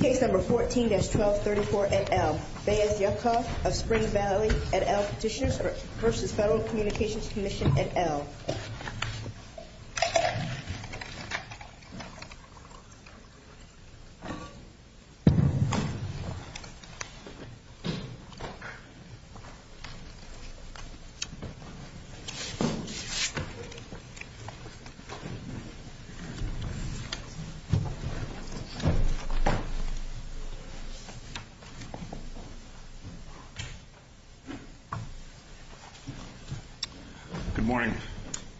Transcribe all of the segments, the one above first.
Case No. 14-1234 NL. Bais Yaakov of Spring Valley v. Federal Communications Commission NL.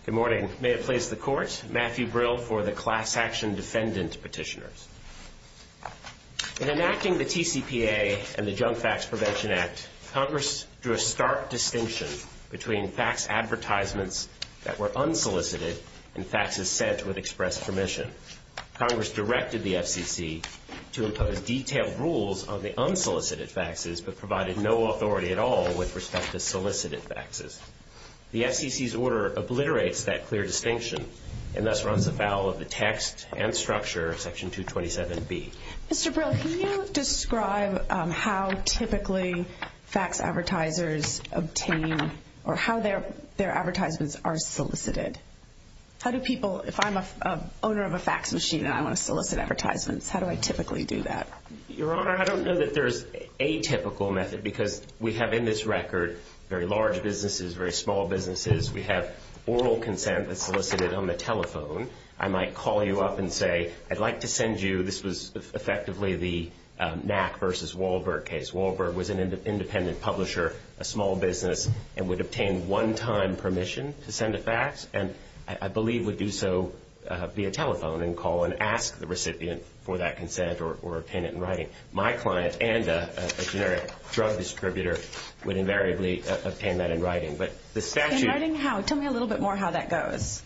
Good morning. May it please the Court, Matthew Brill for the Class Action Defendant Petitioners. In enacting the TCPA and the Junk Fax Prevention Act, Congress drew a stark distinction between fax advertisements that were unsolicited and faxes sent with express permission. Congress directed the SEC to impose detailed rules on the unsolicited faxes but provided no authority at all with respect to solicited faxes. The SEC's order obliterates that clear distinction and thus runs afoul of the text and structure of Section 227B. Mr. Brill, can you describe how typically fax advertisers obtain or how their advertisers are solicited? How do people, if I'm an owner of a fax machine and I want to solicit advertisements, how do I typically do that? Your Honor, I don't know that there's a typical method because we have in this record very large businesses, very small businesses. We have oral consent that's solicited on the telephone. I might call you up and say, I'd like to send you, this was effectively the Knack v. Wahlberg case. Knack v. Wahlberg was an independent publisher, a small business, and would obtain one-time permission to send a fax and I believe would do so via telephone and call and ask the recipient for that consent or pin it in writing. My client and a generic drug distributor would invariably pin that in writing. Tell me a little bit more how that goes.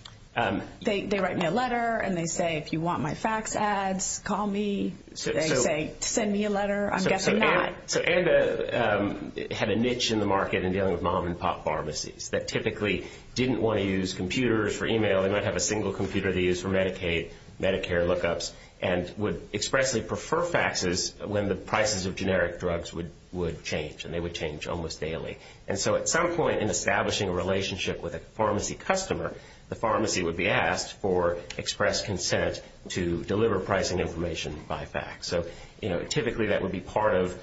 They write me a letter and they say, if you want my fax ads, call me. They say, send me a letter. I'm guessing that. So Ava had a niche in the market in dealing with mom-and-pop pharmacies that typically didn't want to use computers for email. They might have a single computer to use for Medicaid, Medicare lookups, and would expressly prefer faxes when the prices of generic drugs would change, and they would change almost daily. And so at some point in establishing a relationship with a pharmacy customer, the pharmacy would be asked for express consent to deliver pricing information by fax. So, you know, typically that would be part of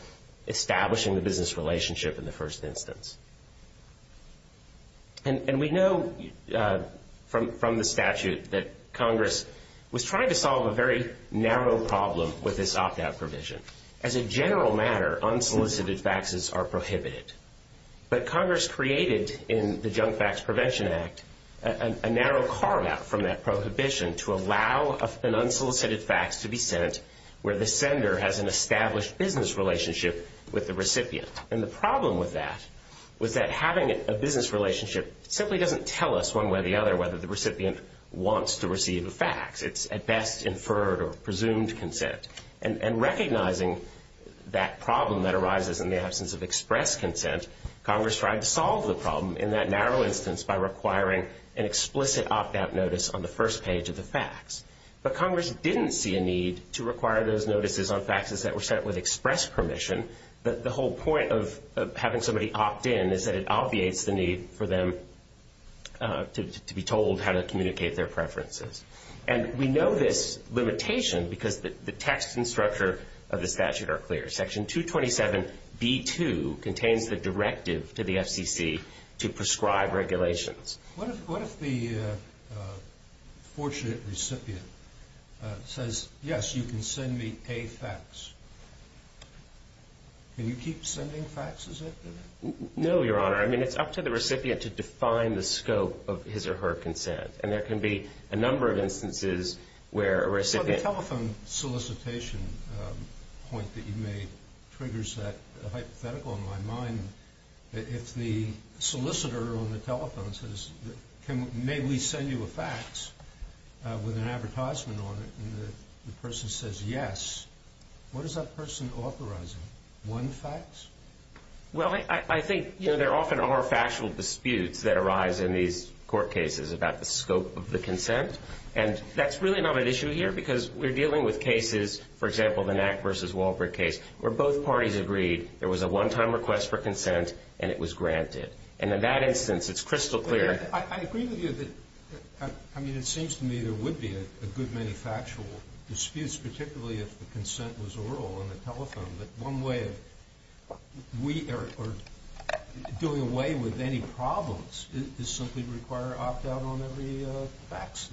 establishing the business relationship in the first instance. And we know from the statute that Congress was trying to solve a very narrow problem with this opt-out provision. As a general matter, unsolicited faxes are prohibited. But Congress created in the Junk Fax Prevention Act a narrow carve-out from that prohibition to allow an unsolicited fax to be sent where the sender has an established business relationship with the recipient. And the problem with that was that having a business relationship simply doesn't tell us one way or the other whether the recipient wants to receive a fax. It's at best inferred or presumed consent. And recognizing that problem that arises in the absence of express consent, Congress tried to solve the problem in that narrow instance by requiring an explicit opt-out notice on the first page of the fax. But Congress didn't see a need to require those notices on faxes that were sent with express permission. The whole point of having somebody opt in is that it obviates the need for them to be told how to communicate their preferences. And we know this limitation because the text and structure of this statute are clear. Section 227b-2 contains the directive to the SEC to prescribe regulations. What if the fortunate recipient says, yes, you can send me a fax? Do you keep sending faxes at them? No, Your Honor. I mean, it's up to the recipient to define the scope of his or her consent. And there can be a number of instances where a recipient... The telephone solicitation point that you made triggers that hypothetical in my mind. If the solicitor on the telephone says, may we send you a fax with an advertisement on it, and the person says yes, what is that person authorizing? One fax? Well, I think, you know, there often are factual disputes that arise in these court cases about the scope of the consent. And that's really not an issue here because we're dealing with cases, for example, the Knack v. Walford case, where both parties agreed there was a one-time request for consent and it was granted. And in that instance, it's crystal clear... I agree with you that, I mean, it seems to me there would be a good many factual disputes, particularly if the consent was oral on the telephone, that one way of doing away with any problems is simply to require opt-out on every fax.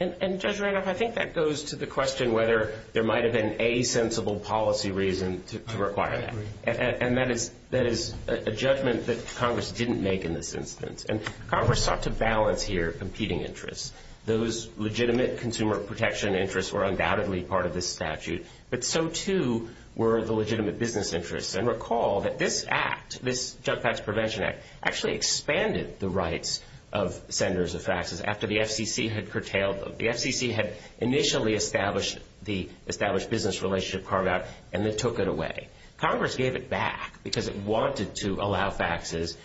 And, Judge Randolph, I think that goes to the question whether there might have been a sensible policy reason to require that. And that is a judgment that Congress didn't make in this instance. And Congress sought to balance here competing interests. Those legitimate consumer protection interests were undoubtedly part of this statute, but so, too, were the legitimate business interests. And recall that this act, this Jump Fax Prevention Act, actually expanded the rights of senders of faxes after the FCC had curtailed them. The FCC had initially established the established business relationship card act and then took it away. Congress gave it back because it wanted to allow faxes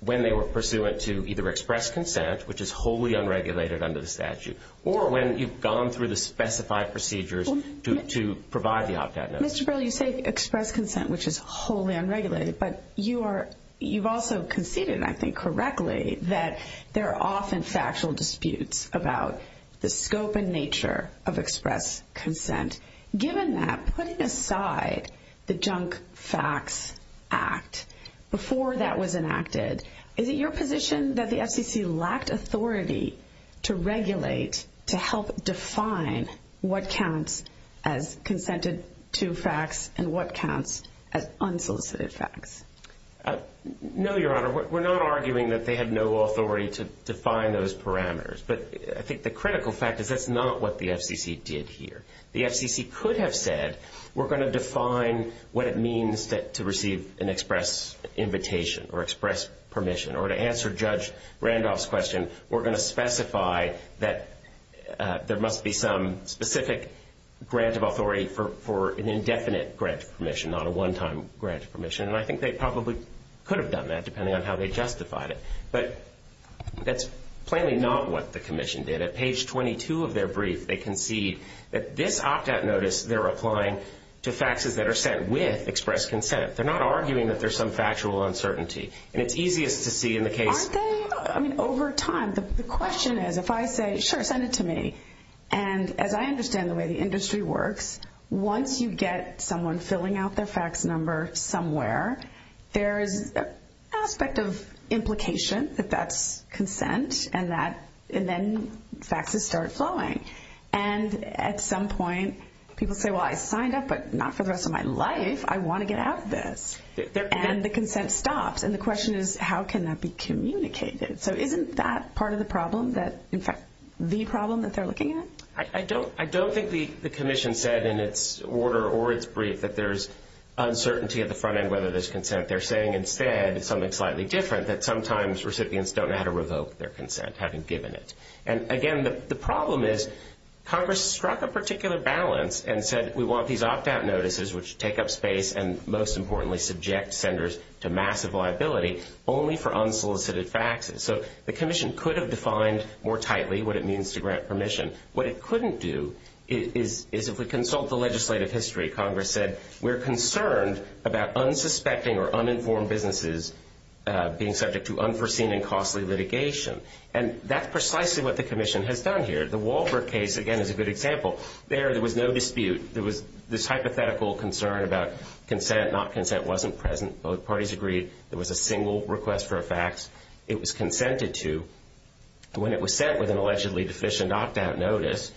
when they were pursuant to either express consent, which is wholly unregulated under the statute, or when you've gone through the specified procedures to provide the opt-out notice. Mr. Burley, you say express consent, which is wholly unregulated, but you've also conceded, I think, correctly that there are often factual disputes about the scope and nature of express consent. Given that, putting aside the Junk Fax Act, before that was enacted, is it your position that the FCC lacked authority to regulate, to help define, what counts as consented to fax and what counts as unsolicited fax? No, Your Honor. We're not arguing that they had no authority to define those parameters, but I think the critical fact is that's not what the FCC did here. The FCC could have said, we're going to define what it means to receive an express invitation or express permission, or to answer Judge Randolph's question, we're going to specify that there must be some specific grant of authority for an indefinite grant of permission, not a one-time grant of permission, and I think they probably could have done that, depending on how they justified it, but that's plainly not what the Commission did. Page 22 of their brief, they concede that this opt-out notice they're applying to faxes that are sent with express consent. They're not arguing that there's some factual uncertainty, and it's easiest to see in the case. Over time, the question is, if I say, sure, send it to me, and as I understand the way the industry works, once you get someone filling out their fax number somewhere, there's an aspect of implication that that's consent, and then faxes start flowing, and at some point, people say, well, I signed up, but not for the rest of my life. I want to get out of this, and the consent stops, and the question is, how can that be communicated? So isn't that part of the problem that, in fact, the problem that they're looking at? I don't think the Commission said in its order or its brief that there's uncertainty at the front end whether there's consent. They're saying instead something slightly different, that sometimes recipients don't know how to revoke their consent, having given it. And, again, the problem is Congress struck a particular balance and said we want these opt-out notices, which take up space and, most importantly, subject senders to massive liability, only for unsolicited faxes. So the Commission could have defined more tightly what it means to grant permission. What it couldn't do is if we consult the legislative history, Congress said we're concerned about unsuspecting or uninformed businesses being subject to unforeseen and costly litigation. And that's precisely what the Commission has done here. The Walbert case, again, is a good example. There, there was no dispute. There was this hypothetical concern about consent, not consent wasn't present. Both parties agreed there was a single request for a fax. It was consented to. When it was sent with an allegedly deficient opt-out notice,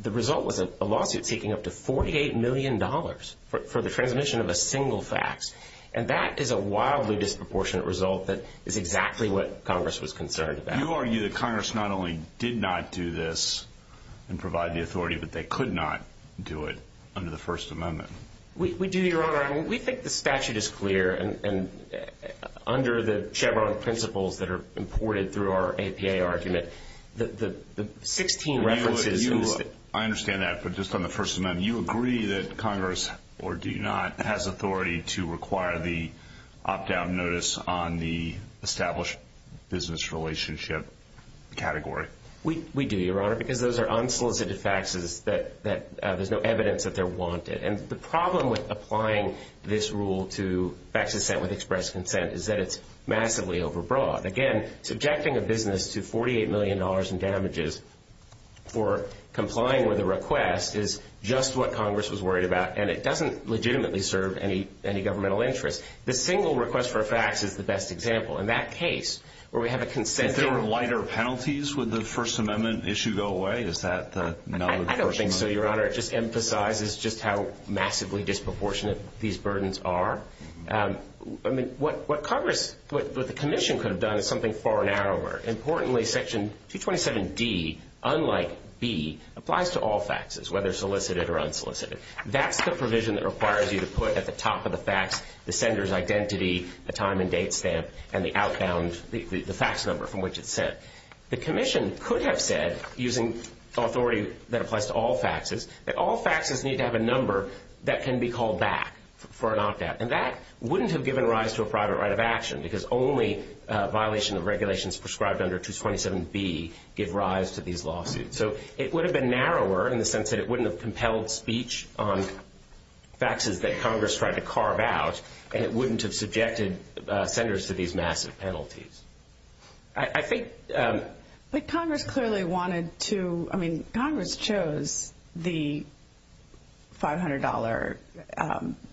the result was a lawsuit taking up to $48 million for the transmission of a single fax. And that is a wildly disproportionate result that is exactly what Congress was concerned about. You argue that Congress not only did not do this and provide the authority, but they could not do it under the First Amendment. We do, Your Honor. Your Honor, we think the statute is clear. And under the Chevron principles that are imported through our APA argument, the 16 references. I understand that. But just on the First Amendment, you agree that Congress, or do you not, has authority to require the opt-out notice on the established business relationship category? We do, Your Honor, because those are unsolicited faxes that there's no evidence that they're wanted. And the problem with applying this rule to fax consent with express consent is that it's massively overbroad. Again, subjecting a business to $48 million in damages for complying with a request is just what Congress was worried about, and it doesn't legitimately serve any governmental interest. The single request for a fax is the best example. In that case, where we have a consented- If there were lighter penalties, would the First Amendment issue go away? Is that not a First Amendment- I don't think so, Your Honor. It just emphasizes just how massively disproportionate these burdens are. I mean, what Congress, what the Commission could have done is something far narrower. Importantly, Section 227D, unlike B, applies to all faxes, whether solicited or unsolicited. That's the provision that requires you to put at the top of the fax the sender's identity, the time and date stamp, and the outbound, the fax number from which it's sent. The Commission could have said, using authority that applies to all faxes, that all faxes need to have a number that can be called back for an opt-out. And that wouldn't have given rise to a private right of action, because only a violation of regulations prescribed under 227B give rise to these lawsuits. So it would have been narrower in the sense that it wouldn't have compelled speech on faxes that Congress tried to carve out, and it wouldn't have subjected senders to these massive penalties. I think... But Congress clearly wanted to, I mean, Congress chose the $500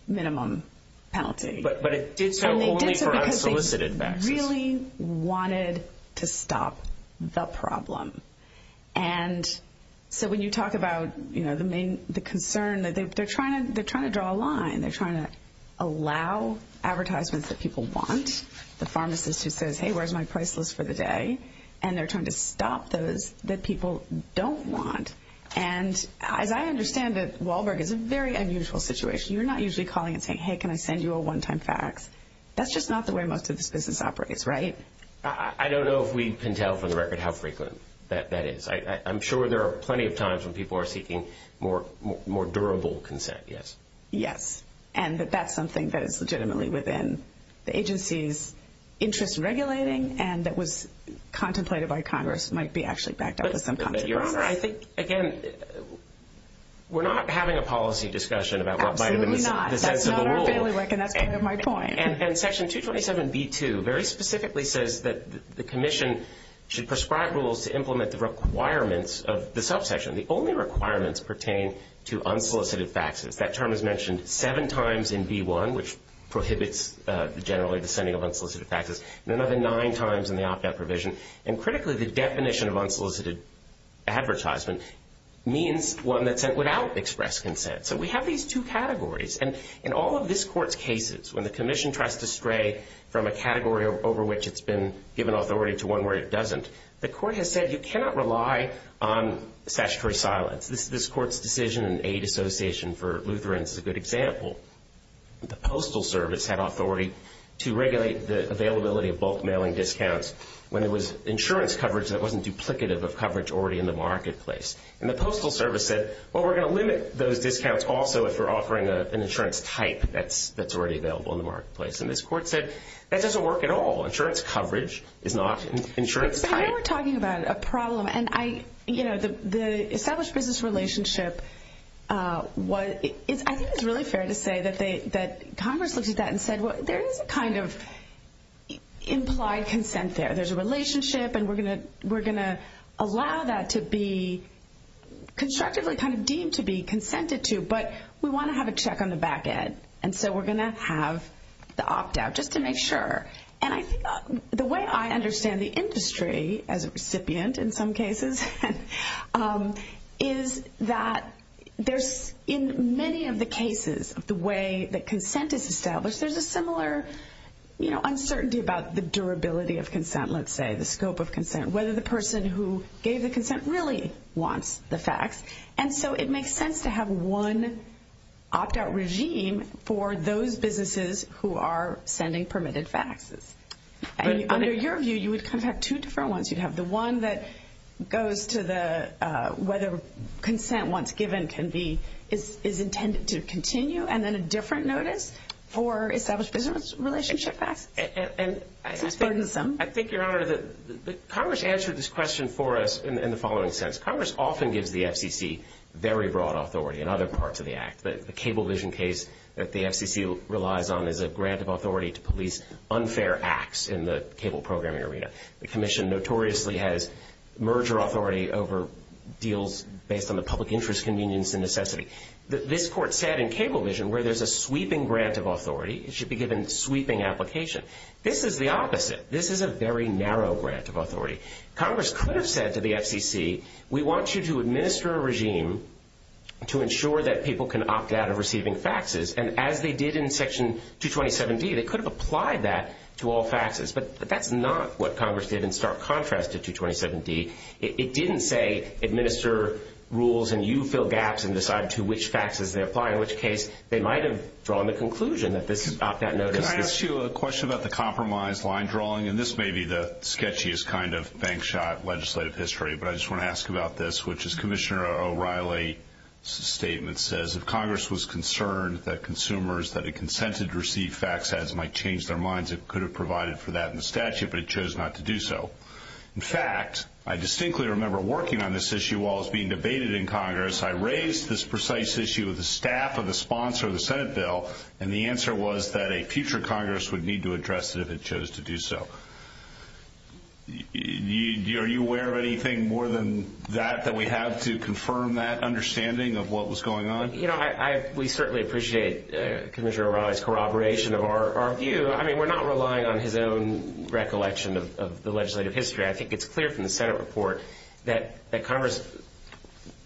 minimum penalty. But it did so only for unsolicited faxes. And they did so because they really wanted to stop the problem. And so when you talk about, you know, the concern, they're trying to draw a line. They're trying to allow advertisements that people want. The pharmacist who says, hey, where's my price list for the day? And they're trying to stop those that people don't want. And as I understand this, Wahlberg, it's a very unusual situation. You're not usually calling and saying, hey, can I send you a one-time fax? That's just not the way most of this business operates, right? I don't know if we can tell for the record how frequent that is. I'm sure there are plenty of times when people are seeking more durable consent, yes. And that that's something that is legitimately within the agency's interest in regulating and that was contemplated by Congress and might be actually backed up at some point. But, Your Honor, I think, again, we're not having a policy discussion about what might have been... Absolutely not. That's not our family work, and that's part of my point. And then Section 227B2 very specifically says that the commission should prescribe rules to implement the requirements of the subsection. The only requirements pertain to unsolicited faxes. That term is mentioned seven times in V1, which prohibits generally the sending of unsolicited faxes, and another nine times in the opt-out provision. And critically, this definition of unsolicited advertisement means one that's sent without express consent. So we have these two categories. And in all of this Court's cases, when the commission tries to stray from a category over which it's been given authority to one where it doesn't, the Court has said you cannot rely on statutory silence. This Court's decision in Aid Association for Lutherans is a good example. The Postal Service had authority to regulate the availability of bulk mailing discounts when it was insurance coverage that wasn't duplicative of coverage already in the marketplace. And the Postal Service said, well, we're going to limit those discounts also if we're offering an insurance type that's already available in the marketplace. And this Court said that doesn't work at all. Insurance coverage is not an insurance type. So here we're talking about a problem. And, you know, the established business relationship, I think it's really fair to say that Congress looked at that and said, well, there is a kind of implied consent there. There's a relationship, and we're going to allow that to be constructively kind of deemed to be consented to, but we want to have a check on the back end. And so we're going to have the opt-out just to make sure. And the way I understand the industry, as a recipient in some cases, is that there's in many of the cases the way that consent is established, there's a similar, you know, uncertainty about the durability of consent, let's say, the scope of consent, whether the person who gave the consent really wants the fax. And so it makes sense to have one opt-out regime for those businesses who are sending permitted faxes. And under your view, you would contact two different ones. You'd have the one that goes to the whether consent once given can be, is intended to continue, and then a different notice for established business relationship fax. It's burdensome. I think, Your Honor, that Congress answered this question for us in the following sense. Congress often gives the FCC very broad authority in other parts of the act, but the Cablevision case that the FCC relies on is a grant of authority to police unfair acts in the cable programming arena. The commission notoriously has merger authority over deals based on the public interest convenience and necessity. This court said in Cablevision where there's a sweeping grant of authority, it should be given sweeping application. This is a very narrow grant of authority. Congress could have said to the FCC, we want you to administer a regime to ensure that people can opt-out of receiving faxes. And as they did in Section 227D, they could have applied that to all faxes. But that's not what Congress did in stark contrast to 227D. It didn't say administer rules and you fill gaps and decide to which faxes they apply, in which case they might have drawn the conclusion that this is opt-out notice. Can I ask you a question about the compromise line drawing? And this may be the sketchiest kind of bank shot legislative history, but I just want to ask about this, which is Commissioner O'Reilly's statement says, if Congress was concerned that consumers that had consented to receive fax ads might change their minds, it could have provided for that in the statute, but it chose not to do so. In fact, I distinctly remember working on this issue while I was being debated in Congress. I raised this precise issue with the staff of a sponsor of the Senate bill, and the answer was that a future Congress would need to address it if it chose to do so. Are you aware of anything more than that that we have to confirm that understanding of what was going on? You know, we certainly appreciate Commissioner O'Reilly's corroboration of our view. I mean, we're not relying on his own recollection of the legislative history. I think it's clear from the Senate report that Congress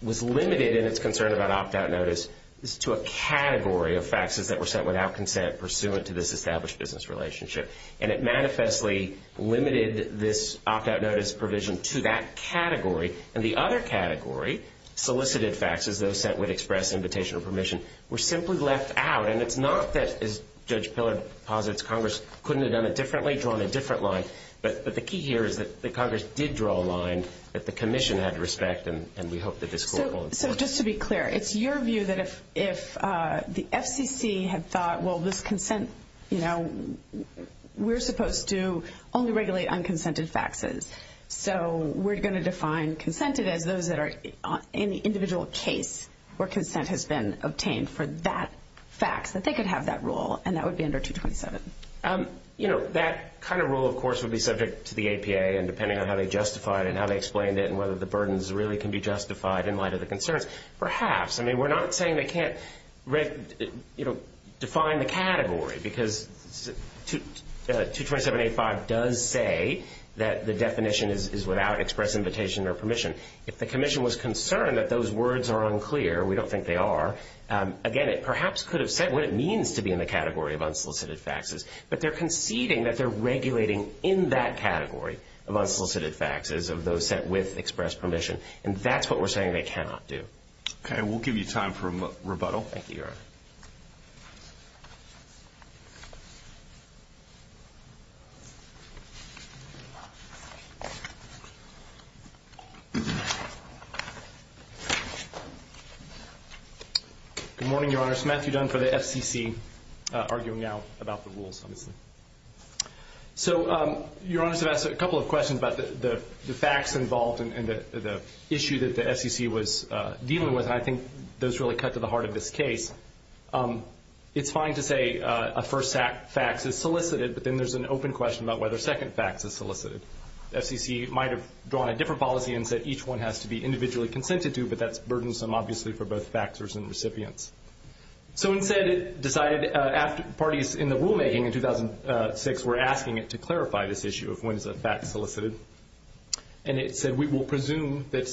was limited in its concern about opt-out notice to a category of faxes that were sent without consent pursuant to this established business relationship, and it manifestly limited this opt-out notice provision to that category. In the other category, solicited faxes, those that would express invitation or permission, were simply left out, and it's not that, as Judge Pillard posits, Congress couldn't have done it differently, drawn a different line, but the key here is that Congress did draw a line that the Commission had to respect, and we hope that this goes forward. So just to be clear, it's your view that if the FCC had thought, well, this consent, you know, we're supposed to only regulate unconsented faxes, so we're going to define consented as those that are in the individual case where consent has been obtained for that fax, that they could have that rule, and that would be under 227. You know, that kind of rule, of course, would be subject to the APA, and depending on how they justified it and how they explained it in light of the concerns, perhaps. I mean, we're not saying they can't, you know, define the category, because 227.85 does say that the definition is without express invitation or permission. If the Commission was concerned that those words are unclear, we don't think they are, again, it perhaps could have said what it means to be in the category of unsolicited faxes, but they're conceding that they're regulating in that category of unsolicited faxes of those sent with express permission, and that's what we're saying they cannot do. Okay, we'll give you time for rebuttal. Thank you, Your Honor. Good morning, Your Honor. Samantha Dunn for the SEC, arguing now about the rules. So Your Honor, I just have a couple of questions about the fax involved and the issue that the SEC was dealing with, and I think those really cut to the heart of this case. It's fine to say a first fax is solicited, but then there's an open question about whether a second fax is solicited. The SEC might have drawn a different policy and said each one has to be individually consented to, but that's burdensome, obviously, for both faxers and recipients. So instead it decided after parties in the rulemaking in 2006 were asking it to clarify this issue of when is a fax solicited, and it said we will presume that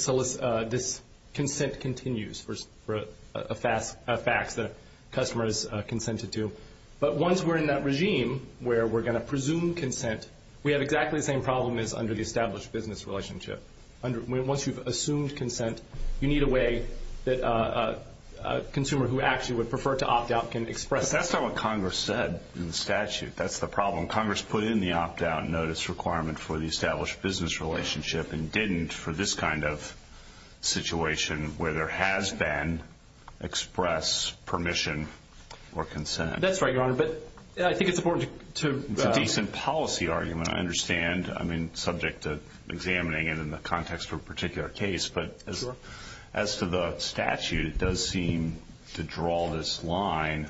this consent continues for a fax that the customer is consented to. But once we're in that regime where we're going to presume consent, we have exactly the same problem as under the established business relationship. Once you've assumed consent, you need a way that a consumer who actually would prefer to opt out can express. That's not what Congress said in the statute. That's the problem. Congress put in the opt-out notice requirement for the established business relationship and didn't for this kind of situation where there has been express permission or consent. That's right, Your Honor, but I think it's important to – Decent policy argument, I understand. I mean subject to examining it in the context of a particular case. But as to the statute, it does seem to draw this line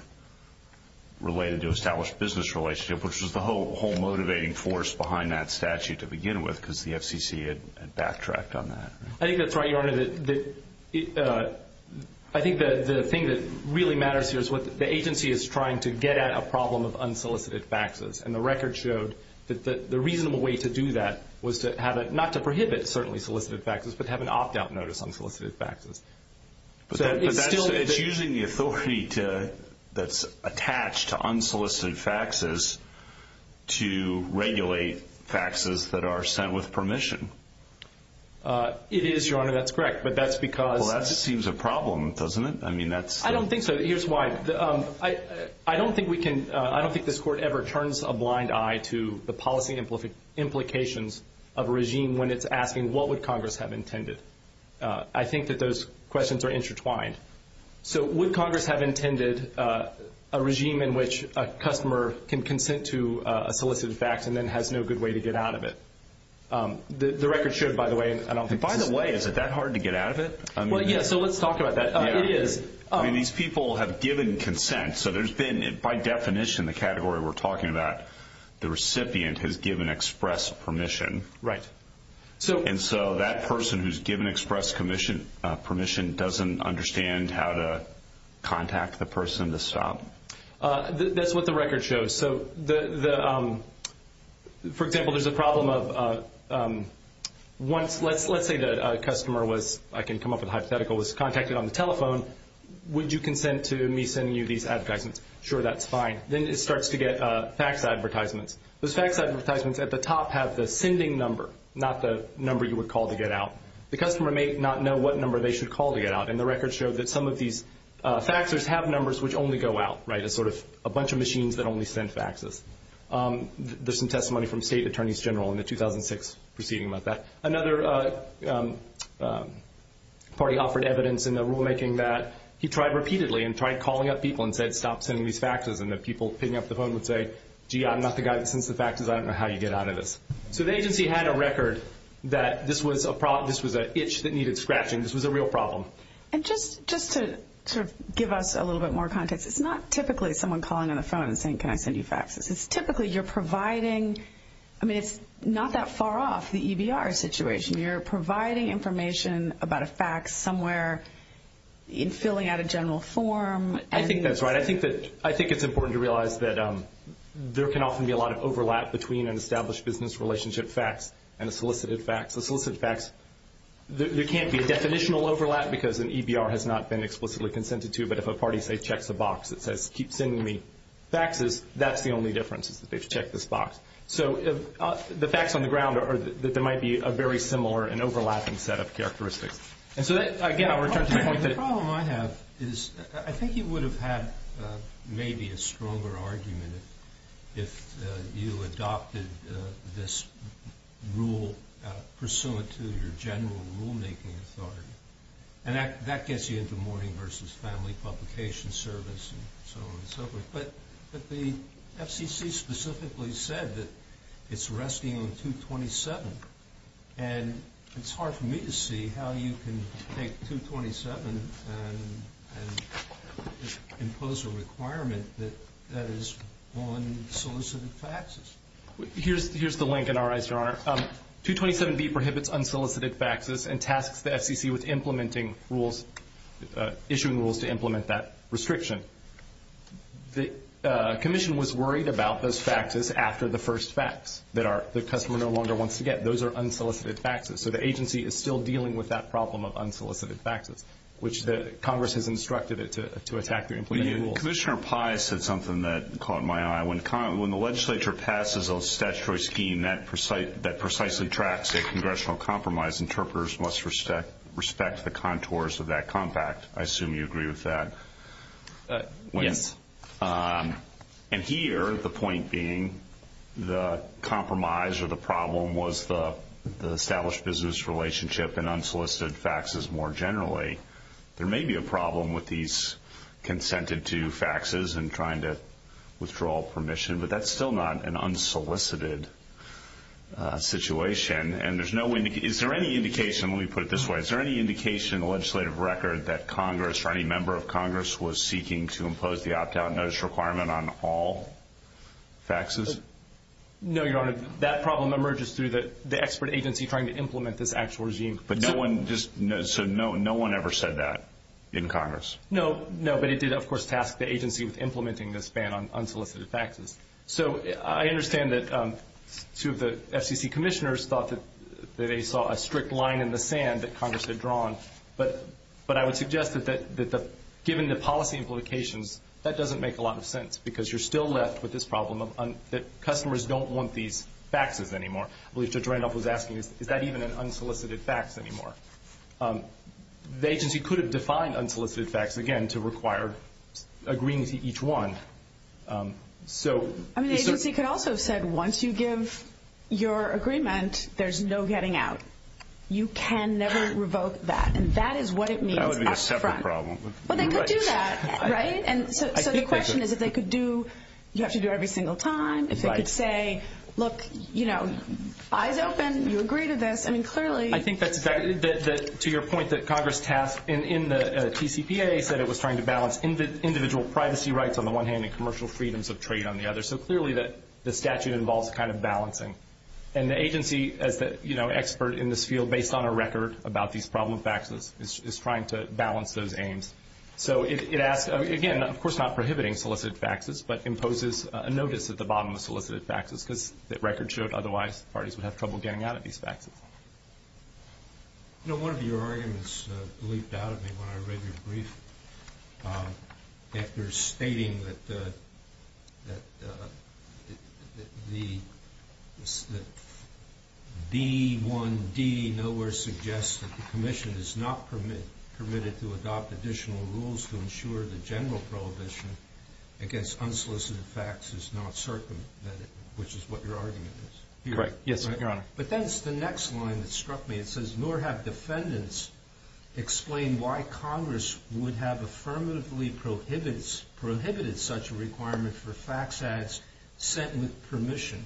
related to established business relationship, which was the whole motivating force behind that statute to begin with because the FCC had backtracked on that. I think that's right, Your Honor. I think the thing that really matters here is the agency is trying to get at a problem of unsolicited faxes, and the record showed that the reasonable way to do that was not to prohibit, certainly, solicited faxes, but have an opt-out notice on solicited faxes. It's using the authority that's attached to unsolicited faxes to regulate faxes that are sent with permission. It is, Your Honor. That's correct, but that's because – Well, that just seems a problem, doesn't it? I mean that's – I don't think so. Here's why. I don't think we can – I don't think this Court ever turns a blind eye to the policy implications of a regime when it's asking what would Congress have intended. I think that those questions are intertwined. So would Congress have intended a regime in which a customer can consent to a solicited fax and then has no good way to get out of it? The record showed, by the way – By the way, is it that hard to get out of it? Well, yeah, so let's talk about that. It is. I mean, these people have given consent, so there's been, by definition, the category we're talking about, the recipient has given express permission. Right. And so that person who's given express permission doesn't understand how to contact the person to stop. That's what the record shows. So for example, there's a problem of once – let's say the customer was – I can come up with a hypothetical – was contacted on the telephone, would you consent to me sending you these advertisements? Sure, that's fine. Then it starts to get fax advertisements. The fax advertisements at the top have the sending number, not the number you would call to get out. The customer may not know what number they should call to get out, and the record showed that some of these faxers have numbers which only go out, right, as sort of a bunch of machines that only send faxes. There's some testimony from State Attorneys General in the 2006 proceeding about that. Another party offered evidence in the rulemaking that he tried repeatedly and tried calling up people and said, stop sending these faxes, and the people picking up the phone would say, gee, I'm not the guy that sends the faxes. I don't know how you get out of this. So the agency had a record that this was an itch that needed scratching. This was a real problem. And just to sort of give us a little bit more context, it's not typically someone calling on the phone and saying, can I send you faxes? It's typically you're providing – I mean, it's not that far off the EBR situation. You're providing information about a fax somewhere and filling out a general form. I think that's right. I think it's important to realize that there can often be a lot of overlap between an established business relationship fax and a solicited fax. The solicited fax, there can't be a definitional overlap because an EBR has not been explicitly consented to, but if a party says, check the box, it says, keep sending me faxes, that's the only difference is that they've checked this box. So the fax on the ground, there might be a very similar and overlapping set of characteristics. The problem I have is I think you would have had maybe a stronger argument if you adopted this rule pursuant to your general rulemaking authority. And that gets you into morning versus family publication service and so on and so forth. But the FCC specifically said that it's resting on 227. And it's hard for me to see how you can take 227 and impose a requirement that is on solicited faxes. Here's the link in our IHR. 227B prohibits unsolicited faxes and tasks the FCC with implementing rules, issuing rules to implement that restriction. The Commission was worried about those faxes after the first fax that the customer no longer wants to get. Those are unsolicited faxes. So the agency is still dealing with that problem of unsolicited faxes, which Congress has instructed it to attack the implemented rules. Commissioner Pai said something that caught my eye. When the legislature passes a statutory scheme that precisely tracks a congressional compromise, interpreters must respect the contours of that compact. I assume you agree with that. Yes. And here, the point being, the compromise or the problem was the established business relationship and unsolicited faxes more generally. There may be a problem with these consented-to faxes and trying to withdraw permission, but that's still not an unsolicited situation. And is there any indication, let me put it this way, is there any indication in the legislative record that Congress or any member of Congress was seeking to impose the opt-out notice requirement on all faxes? No, Your Honor. That problem emerges through the expert agency trying to implement this actual regime. So no one ever said that in Congress? No, but it did, of course, task the agency with implementing this ban on unsolicited faxes. So I understand that two of the FCC commissioners thought that they saw a strict line in the sand that Congress had drawn, but I would suggest that given the policy implications, that doesn't make a lot of sense because you're still left with this problem that customers don't want these faxes anymore. I believe Judge Randolph was asking, is that even an unsolicited fax anymore? The agency could have defined unsolicited fax, again, to require agreeing to each one. I mean, the agency could also have said, once you give your agreement, there's no getting out. You can never revoke that, and that is what it means. That would be a separate problem. Well, they could do that, right? And so the question is, if they could do, you have to do it every single time. If they could say, look, you know, either of them, you agree to this. I mean, clearly. I think that's exactly, to your point, that Congress has, in the CCPA, said it was trying to balance individual privacy rights on the one hand and commercial freedoms of trade on the other. So clearly the statute involves kind of balancing. And the agency, you know, expert in this field, based on a record about these problem faxes, is trying to balance those aims. So it asks, again, of course not prohibiting solicited faxes, but imposes a notice at the bottom of solicited faxes because that record should. Otherwise, parties would have trouble getting out of these faxes. You know, one of your arguments leaped out at me when I read your brief, after stating that the V1D nowhere suggests that the commission is not permitted to adopt additional rules to ensure the general prohibition against unsolicited faxes is not circumvented, which is what your argument is. Correct. Yes, Your Honor. But then it's the next line that struck me. It says, nor have defendants explained why Congress would have affirmatively prohibited such a requirement for fax ads sent with permission.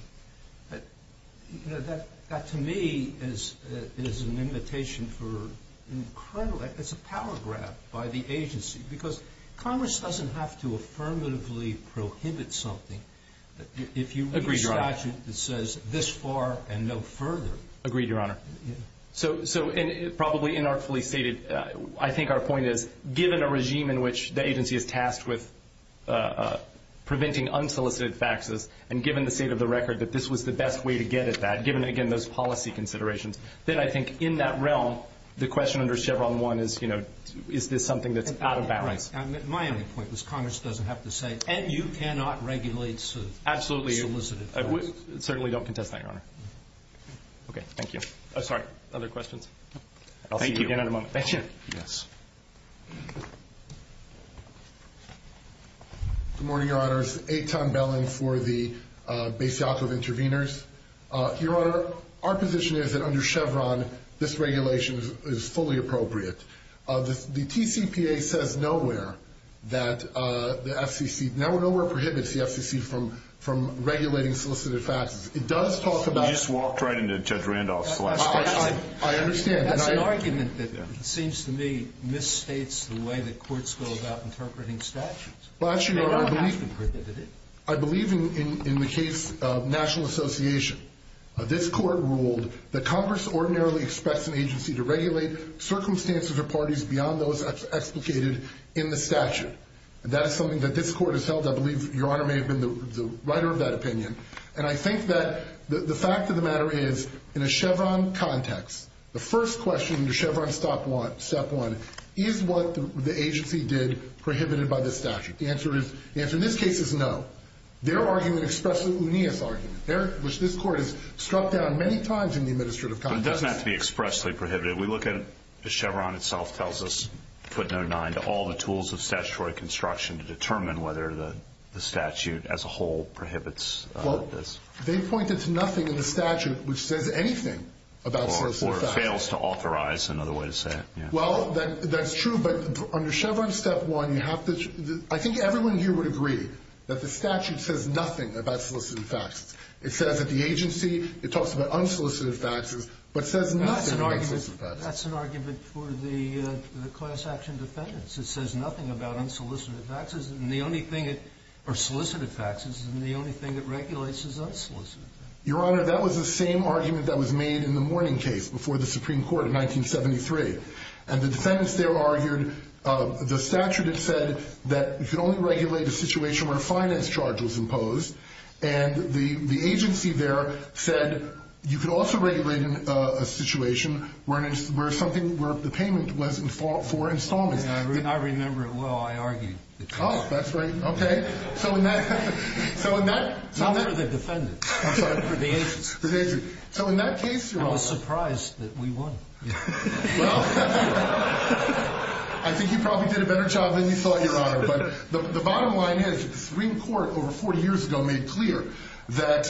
That, to me, is an invitation for, it's a power grab by the agency. Because Congress doesn't have to affirmatively prohibit something. Agreed, Your Honor. If you read the statute, it says, this far and no further. Agreed, Your Honor. So, and probably inartfully stated, I think our point is, given a regime in which the agency is tasked with preventing unsolicited faxes, and given the state of the record that this was the best way to get at that, given, again, those policy considerations, then I think in that realm the question under Chevron 1 is, you know, is this something that's out of balance. All right. My only point is Congress doesn't have to say, and you cannot regulate. Absolutely. Certainly don't contest that, Your Honor. Okay. Thank you. Oh, sorry. Other questions? I'll take another moment. Yes. Good morning, Your Honors. A. Tom Bellen for the Base Council of Interveners. Your Honor, our position is that under Chevron this regulation is fully appropriate. The TCPA says nowhere that the FCC, nowhere prohibits the FCC from regulating solicited faxes. It does talk about – This was apprehended, Judge Randolph. I understand. And I like it. It seems to me it misstates the way the courts go about interpreting statutes. Well, actually, Your Honor, I believe – They don't have to prohibit it. This court ruled that Congress ordinarily expects an agency to regulate circumstances or parties beyond those explicated in the statute. That's something that this court has held. I believe Your Honor may have been the writer of that opinion. And I think that the fact of the matter is, in a Chevron context, the first question in the Chevron step one is what the agency did prohibited by the statute. The answer is, in this case, it's no. They're arguing expressly what we need to argue, which this court has struck down many times in the administrative context. It doesn't have to be expressly prohibited. We look at – the Chevron itself tells us, put in their mind, all the tools of statutory construction to determine whether the statute as a whole prohibits this. They pointed to nothing in the statute which says anything about solicited faxes. Or fails to authorize, another way to say it. Well, that's true, but under Chevron step one, you have to – I think everyone here would agree that the statute says nothing about solicited faxes. It says that the agency – it talks about unsolicited faxes, but says nothing about solicited faxes. That's an argument for the class action defendants. It says nothing about unsolicited faxes, and the only thing it – or solicited faxes, and the only thing it regulates is unsolicited. Your Honor, that was the same argument that was made in the Mourning case before the Supreme Court in 1973. And the defendants there argued the statute has said that it can only regulate a situation where a finance charge is imposed, and the agency there said you could also regulate a situation where something – where the payment was for installment. I do not remember it well. I argued it. Oh, that's right. Okay. So in that – Not with the defendants. So in that case, Your Honor – I was surprised that we won. I think you probably did a better job than you thought, Your Honor. But the bottom line is the Supreme Court over 40 years ago made clear that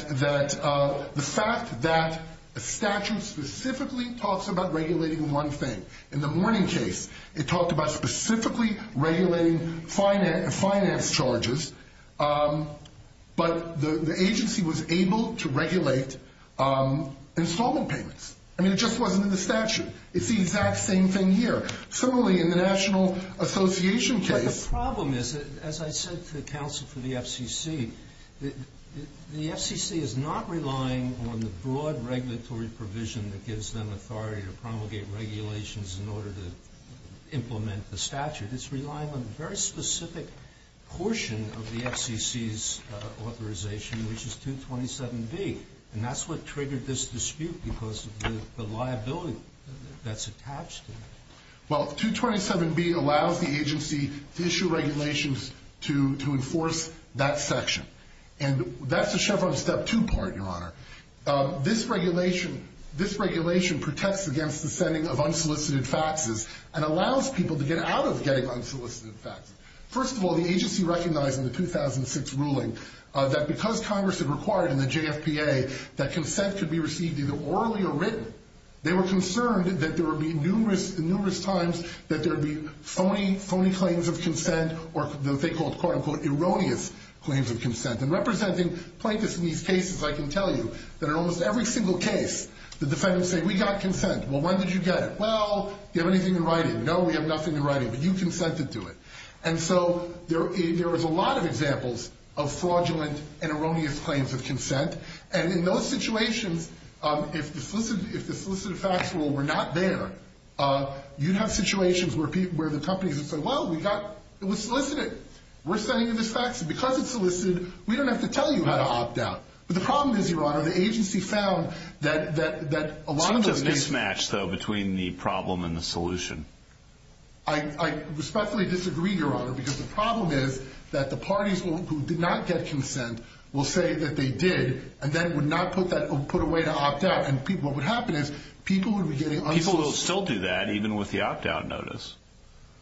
the fact that the statute specifically talks about regulating one thing. In the Mourning case, it talked about specifically regulating finance charges, but the agency was able to regulate installment payments, and it just wasn't in the statute. It's the exact same thing here. It's totally in the National Association case. But the problem is, as I said to the counsel for the FCC, the FCC is not relying on the broad regulatory provision that gives them authority to promulgate regulations in order to implement the statute. It's relying on a very specific portion of the FCC's authorization, which is 227B. And that's what triggered this dispute because of the liability that's attached to it. Well, 227B allows the agency to issue regulations to enforce that section. And that's the Chevron Step 2 part, Your Honor. This regulation protects against the setting of unsolicited faxes and allows people to get out of getting unsolicited faxes. First of all, the agency recognized in the 2006 ruling that because Congress had required in the JFPA that consent could be received either orally or written, they were concerned that there would be numerous times that there would be phony claims of consent or what they called, quote-unquote, erroneous claims of consent. And representing plaintiffs in these cases, I can tell you that in almost every single case, the defendants say, we got consent. Well, when did you get it? Well, do you have anything in writing? No, we have nothing in writing, but you consented to it. And so there is a lot of examples of fraudulent and erroneous claims of consent. And in those situations, if the solicited fax rule were not there, you'd have situations where the company would say, well, it was solicited. We're sending you this fax because it's solicited. We don't have to tell you how to opt out. But the problem is, Your Honor, the agency found that a lot of those cases. It's a mismatch, though, between the problem and the solution. I respectfully disagree, Your Honor, because the problem is that the parties who did not get consent will say that they did and then would not put away the opt-out. And what would happen is people would be getting un- People will still do that even with the opt-out notice.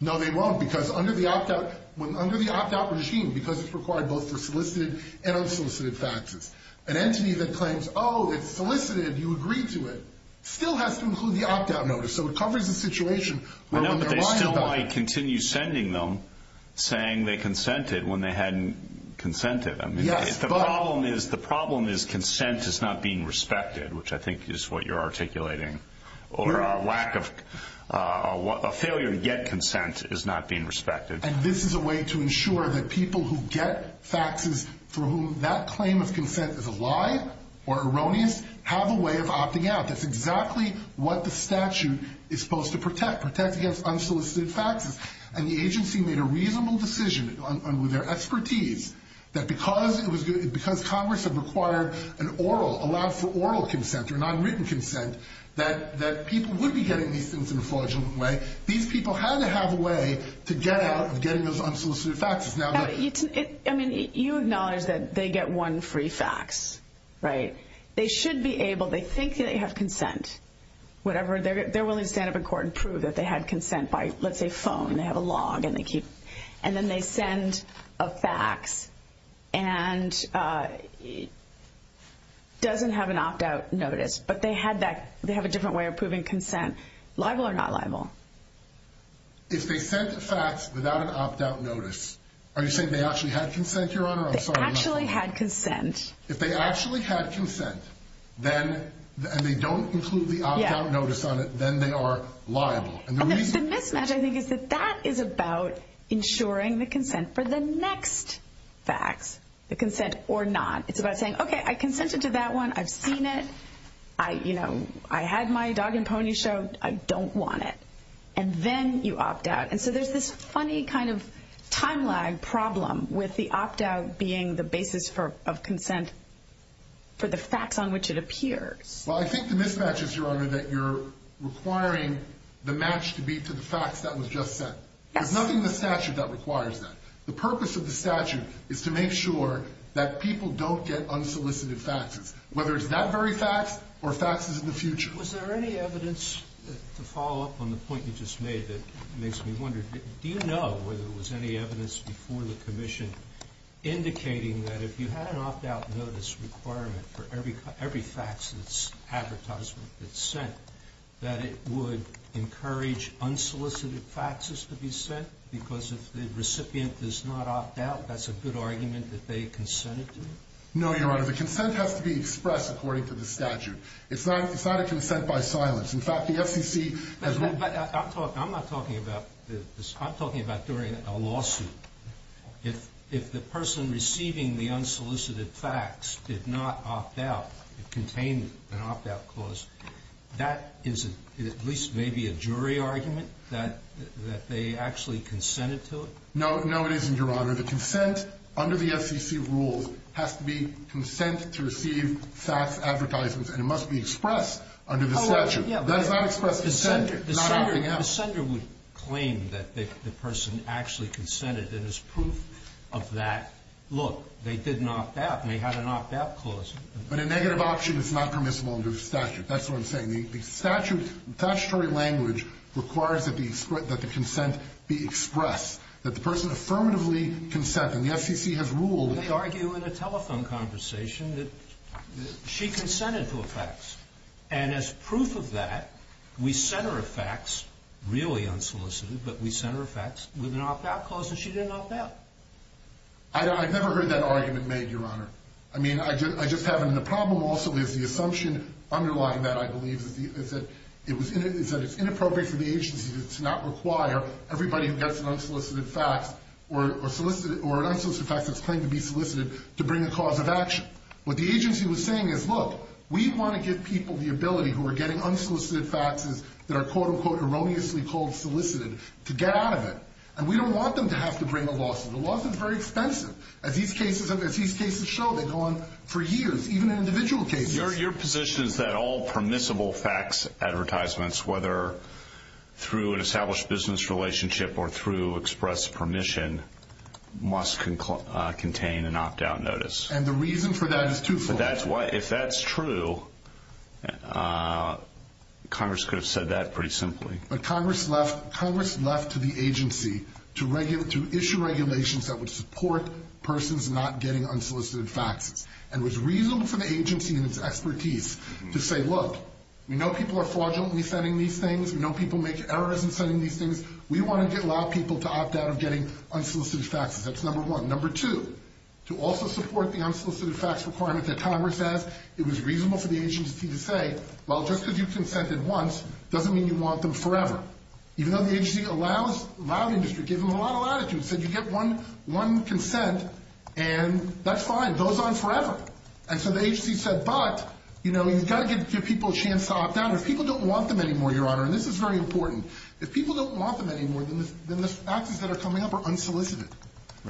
No, they won't because under the opt-out machine, because it's required both for solicited and unsolicited faxers, an entity that claims, oh, it's solicited, you agree to it, still has to include the opt-out notice. So it covers a situation where- No, but they still might continue sending them, saying they consented when they hadn't consented. The problem is consent is not being respected, which I think is what you're articulating, or a failure to get consent is not being respected. And this is a way to ensure that people who get faxes for whom that claim of consent is a lie or erroneous have a way of opting out. That's exactly what the statute is supposed to protect, protect against unsolicited faxers. And the agency made a reasonable decision on their expertise that because it was going to- because Congress had required an oral, allowed for oral consent or non-written consent, that people would be getting these things in a fraudulent way. These people had to have a way to get out of getting those unsolicited faxers. I mean, you acknowledge that they get one free fax, right? They should be able-they think they have consent. They're willing to stand up in court and prove that they had consent by, let's say, phone. They have a log, and then they send a fax and doesn't have an opt-out notice. But they have a different way of proving consent, liable or not liable. If they sent a fax without an opt-out notice, are you saying they actually had consent, Your Honor? They actually had consent. If they actually had consent and they don't include the opt-out notice on it, then they are liable. The mismatch, I think, is that that is about ensuring the consent for the next fax, the consent or not. It's about saying, okay, I consented to that one. I've seen it. You know, I had my dog and pony show. I don't want it. And then you opt out. And so there's this funny kind of time lag problem with the opt-out being the basis of consent for the fax on which it appeared. Well, I think the mismatch is, Your Honor, that you're requiring the match to be to the fax that was just sent. There's nothing in the statute that requires that. The purpose of the statute is to make sure that people don't get unsolicited faxes, whether it's that very fax or faxes in the future. Was there any evidence to follow up on the point you just made that makes me wonder, do you know whether there was any evidence before the commission indicating that if you had an opt-out notice requirement for every fax advertisement that's sent, that it would encourage unsolicited faxes to be sent because if the recipient does not opt out, that's a good argument that they consented to? No, Your Honor. The consent has to be expressed according to the statute. It's not a consent by silence. In fact, the FCC has... But I'm not talking about this. I'm talking about during a lawsuit. If the person receiving the unsolicited fax did not opt out, contained an opt-out clause, that is at least maybe a jury argument that they actually consented to? No, it isn't, Your Honor. Your Honor, the consent under the FCC rules has to be consent to receive fax advertisements, and it must be expressed under the statute. Oh, yeah. But if I express consent, it's not opting out. The sender would claim that the person actually consented. There's proof of that. Look, they did an opt-out, and they had an opt-out clause. But a negative option is not permissible under the statute. That's what I'm saying. The statutory language requires that the consent be expressed, that the person affirmatively consents. And the FCC has ruled... They argue in a telephone conversation that she consented to a fax. And as proof of that, we sent her a fax, really unsolicited, but we sent her a fax with an opt-out clause, and she did an opt-out. I've never heard that argument made, Your Honor. I mean, I just haven't. The problem also is the assumption underlying that, I believe, is that it's inappropriate for the agency to not require everybody who gets an unsolicited fax or an unsolicited fax that's claimed to be solicited to bring a cause of action. What the agency was saying is, look, we want to give people the ability who are getting unsolicited faxes that are, quote-unquote, erroneously called solicited, to get out of it. And we don't want them to have to bring a lawsuit. It wasn't very expensive, as these cases show. They go on for years, even in individual cases. Your position is that all permissible fax advertisements, whether through an established business relationship or through express permission, must contain an opt-out notice. And the reason for that is twofold. If that's true, Congress could have said that pretty simply. But Congress left to the agency to issue regulations that would support persons not getting unsolicited faxes. And it was reasonable for the agency and its expertise to say, look, we know people are fraudulent in sending these things. We know people make errors in sending these things. We wanted to allow people to opt out of getting unsolicited faxes. That's number one. Number two, to also support the unsolicited fax requirements that Congress has, it was reasonable for the agency to say, well, just because you consented once doesn't mean you want them forever. Even though the agency allowed us to give them a lot of latitude, said you get one consent, and that's fine. It goes on forever. And so the agency said, but, you know, you've got to give people a chance to opt out. If people don't want them anymore, Your Honor, and this is very important, if people don't want them anymore, then the faxes that are coming up are unsolicited.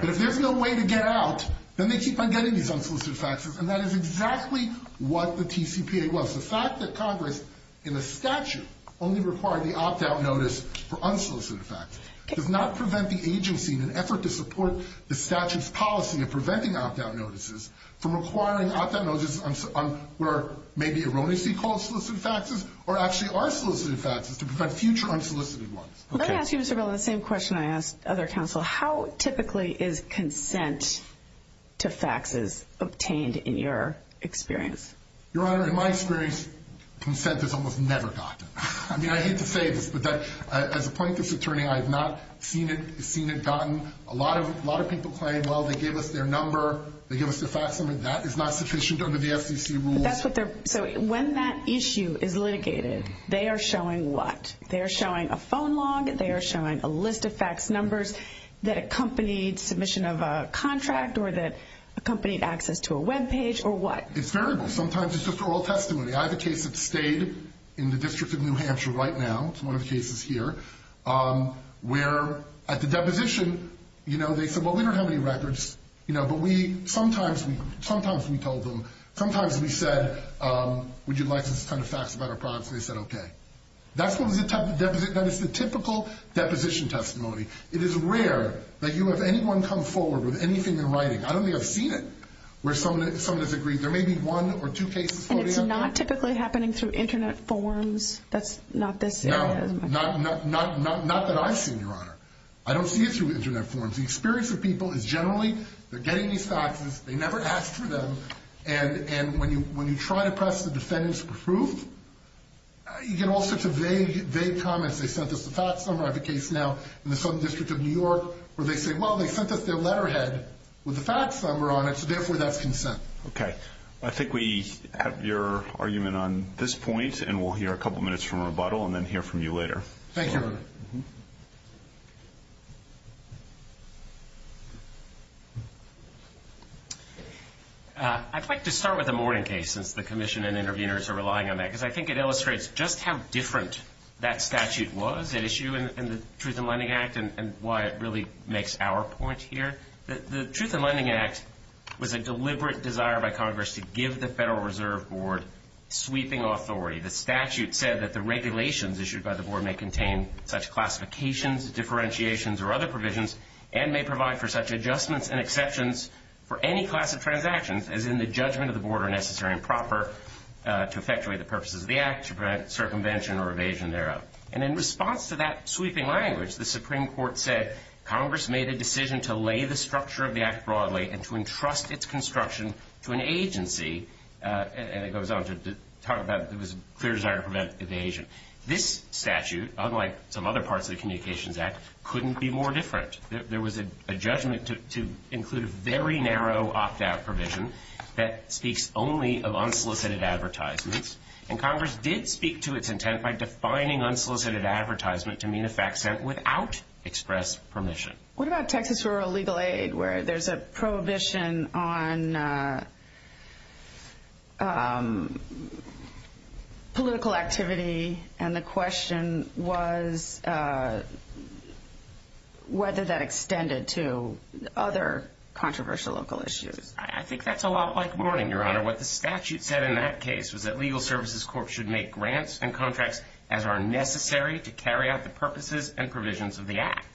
If there's no way to get out, then they keep on getting these unsolicited faxes. And that is exactly what the TCPA was. The fact that Congress in the statute only required the opt-out notice for unsolicited faxes does not prevent the agency in an effort to support the statute's policy of preventing opt-out notices from requiring opt-out notices where maybe erroneously called solicited faxes or actually are solicited faxes to prevent future unsolicited ones. Let me ask you the same question I asked other counsel. How typically is consent to faxes obtained in your experience? Your Honor, in my experience, consent is almost never gotten. I mean, I hate to say this, but as a plaintiff's attorney, I have not seen it gotten. A lot of people claim, well, they gave us their number. They gave us their fax number. That is not sufficient under the FCC rule. So when that issue is litigated, they are showing what? They are showing a phone log. They are showing a list of fax numbers that accompanied submission of a contract or that accompanied access to a webpage or what? It's terrible. Sometimes it's just oral testimony. I have a case that stayed in the District of New Hampshire right now. It's one of the cases here, where at the deposition, you know, they said, well, we don't have any records. You know, but sometimes we told them, sometimes we said, would you like us to send a fax about our products? We said, okay. That's the typical deposition testimony. It is rare that you have anyone come forward with anything in writing. I don't think I've seen it. There may be one or two cases. And it's not typically happening through Internet forms? No, not that I've seen, Your Honor. I don't see it through Internet forms. The experience of people is generally they're getting these faxes, they never ask for them, and when you try to press the defendants for proof, you get all sorts of vague comments. They sent us a fax number. I have a case now in the Southern District of New York where they say, well, they sent us their letterhead with a fax number on it, so therefore that's consent. Okay. I think we have your argument on this point, and we'll hear a couple minutes from rebuttal, and then hear from you later. Thank you. I'd like to start with the Morning case, since the Commission and interveners are relying on that, because I think it illustrates just how different that statute was, and why it's an issue in the Truth in Lending Act, and why it really makes our point here. The Truth in Lending Act was a deliberate desire by Congress to give the Federal Reserve Board sweeping authority. The statute said that the regulations issued by the Board may contain such classifications, differentiations, or other provisions, and may provide for such adjustments and exceptions for any class of transactions, as in the judgment of the Board are necessary and proper to effectuate the purposes of the Act, to prevent circumvention or evasion thereof. And in response to that sweeping language, the Supreme Court said, Congress made a decision to lay the structure of the Act broadly and to entrust its construction to an agency, and it goes on to talk about it was a clear desire to prevent evasion. This statute, unlike some other parts of the Communications Act, couldn't be more different. There was a judgment to include a very narrow opt-out provision that speaks only of unsolicited advertisements, and Congress did speak to its intent by defining unsolicited advertisement to mean a fact set without express permission. What about Texas Rural Legal Aid, where there's a prohibition on political activity, and the question was whether that extended to other controversial local issues? I think that's a lot like warning, Your Honor. What the statute said in that case was that legal services courts should make grants and contracts as are necessary to carry out the purposes and provisions of the Act,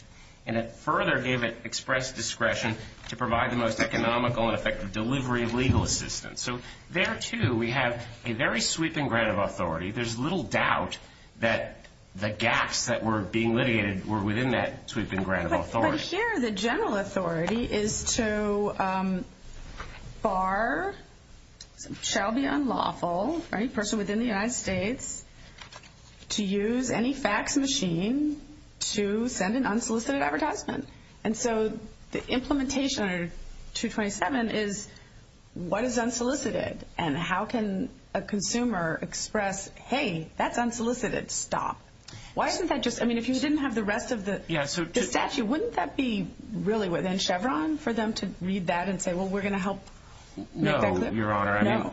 and it further gave it express discretion to provide the most economical and effective delivery of legal assistance. So there, too, we have a very sweeping grant of authority. There's little doubt that the gaps that were being litigated were within that sweeping grant of authority. Here, the general authority is to bar, shall be unlawful, any person within the United States to use any fax machine to send an unsolicited advertisement. And so the implementation under 227 is what is unsolicited, and how can a consumer express, hey, that's unsolicited, stop. I mean, if you didn't have the rest of the statute, wouldn't that be really within Chevron for them to read that and say, well, we're going to help? No, Your Honor.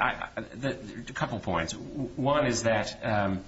A couple points. One is that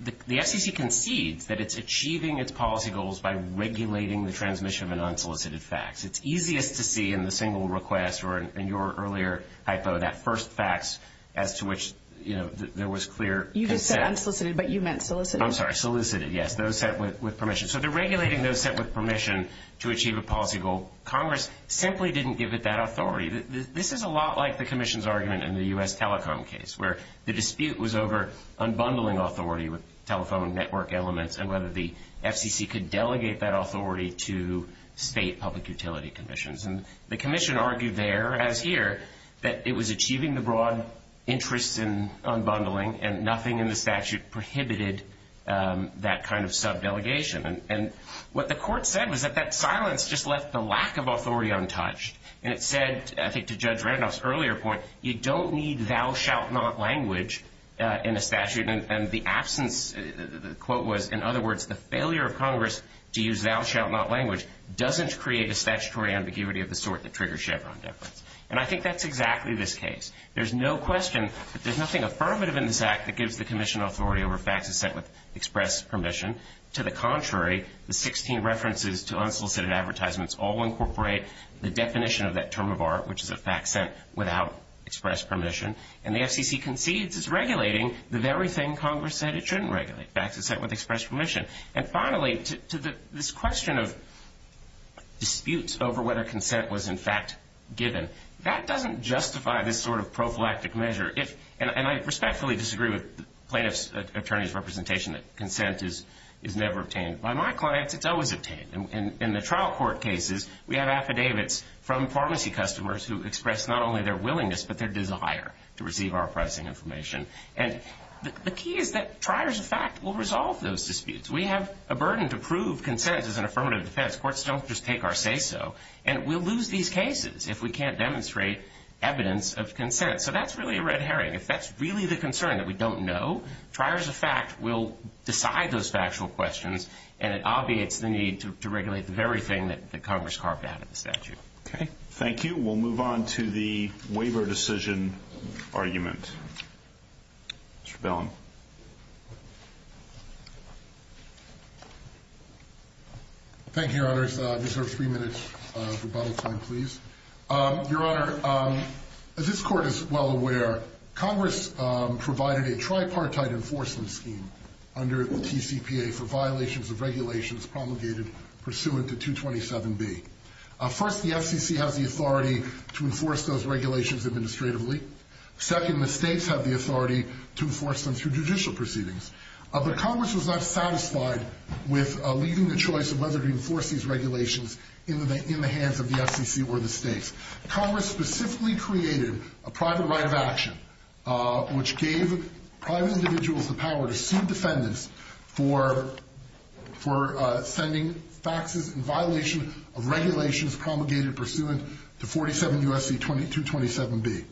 the SEC concedes that it's achieving its policy goals by regulating the transmission of an unsolicited fax. It's easiest to see in the single request or in your earlier hypo that first fax as to which there was clear consent. I'm sorry, unsolicited, but you meant solicited. I'm sorry, solicited, yes, those sent with permission. So they're regulating those sent with permission to achieve a policy goal. Congress simply didn't give it that authority. This is a lot like the Commission's argument in the U.S. Telecom case, where the dispute was over unbundling authority with telephone network elements and whether the SEC could delegate that authority to state public utility commissions. And the Commission argued there, as here, that it was achieving the broad interest in unbundling and nothing in the statute prohibited that kind of subdelegation. And what the court said was that that silence just left the lack of authority untouched. And it said, I think to Judge Randolph's earlier point, you don't need thou shalt not language in the statute. And the absence, the quote was, in other words, the failure of Congress to use thou shalt not language doesn't create a statutory ambiguity of the sort that triggers Chevron deference. And I think that's exactly this case. There's no question that there's nothing affirmative in this act that gives the Commission authority over facts that sent with express permission. To the contrary, the 16 references to unsolicited advertisements all incorporate the definition of that term of art, which is a fact sent without express permission. And the SEC concedes it's regulating the very thing Congress said it shouldn't regulate, facts that sent with express permission. And finally, to this question of disputes over whether consent was, in fact, given, that doesn't justify this sort of prophylactic measure. And I respectfully disagree with plaintiff's attorney's representation that consent is never obtained. But on my client, it's always obtained. In the trial court cases, we have affidavits from pharmacy customers who express not only their willingness but their desire to receive our pricing information. The key is that triers of fact will resolve those disputes. We have a burden to prove consent is an affirmative defense. Courts don't just take our say-so. And we'll lose these cases if we can't demonstrate evidence of consent. So that's really a red herring. If that's really the concern that we don't know, triers of fact will decide those factual questions and it obviates the need to regulate the very thing that Congress carved out of the statute. Thank you. We'll move on to the waiver decision argument. Mr. Bellin. Thank you, Your Honors. I deserve three minutes of rebuttal time, please. Your Honor, as this Court is well aware, Congress provided a tripartite enforcement scheme under TCPA for violations of regulations promulgated pursuant to 227B. First, the FTC has the authority to enforce those regulations administratively. Second, the states have the authority to enforce them through judicial proceedings. But Congress was not satisfied with leaving the choice of whether to enforce these regulations in the hands of the FTC or the states. Congress specifically created a private right of action, which gave private individuals the power to sue defendants for sending facts in violation of regulations promulgated pursuant to 47 U.S.C. 227B.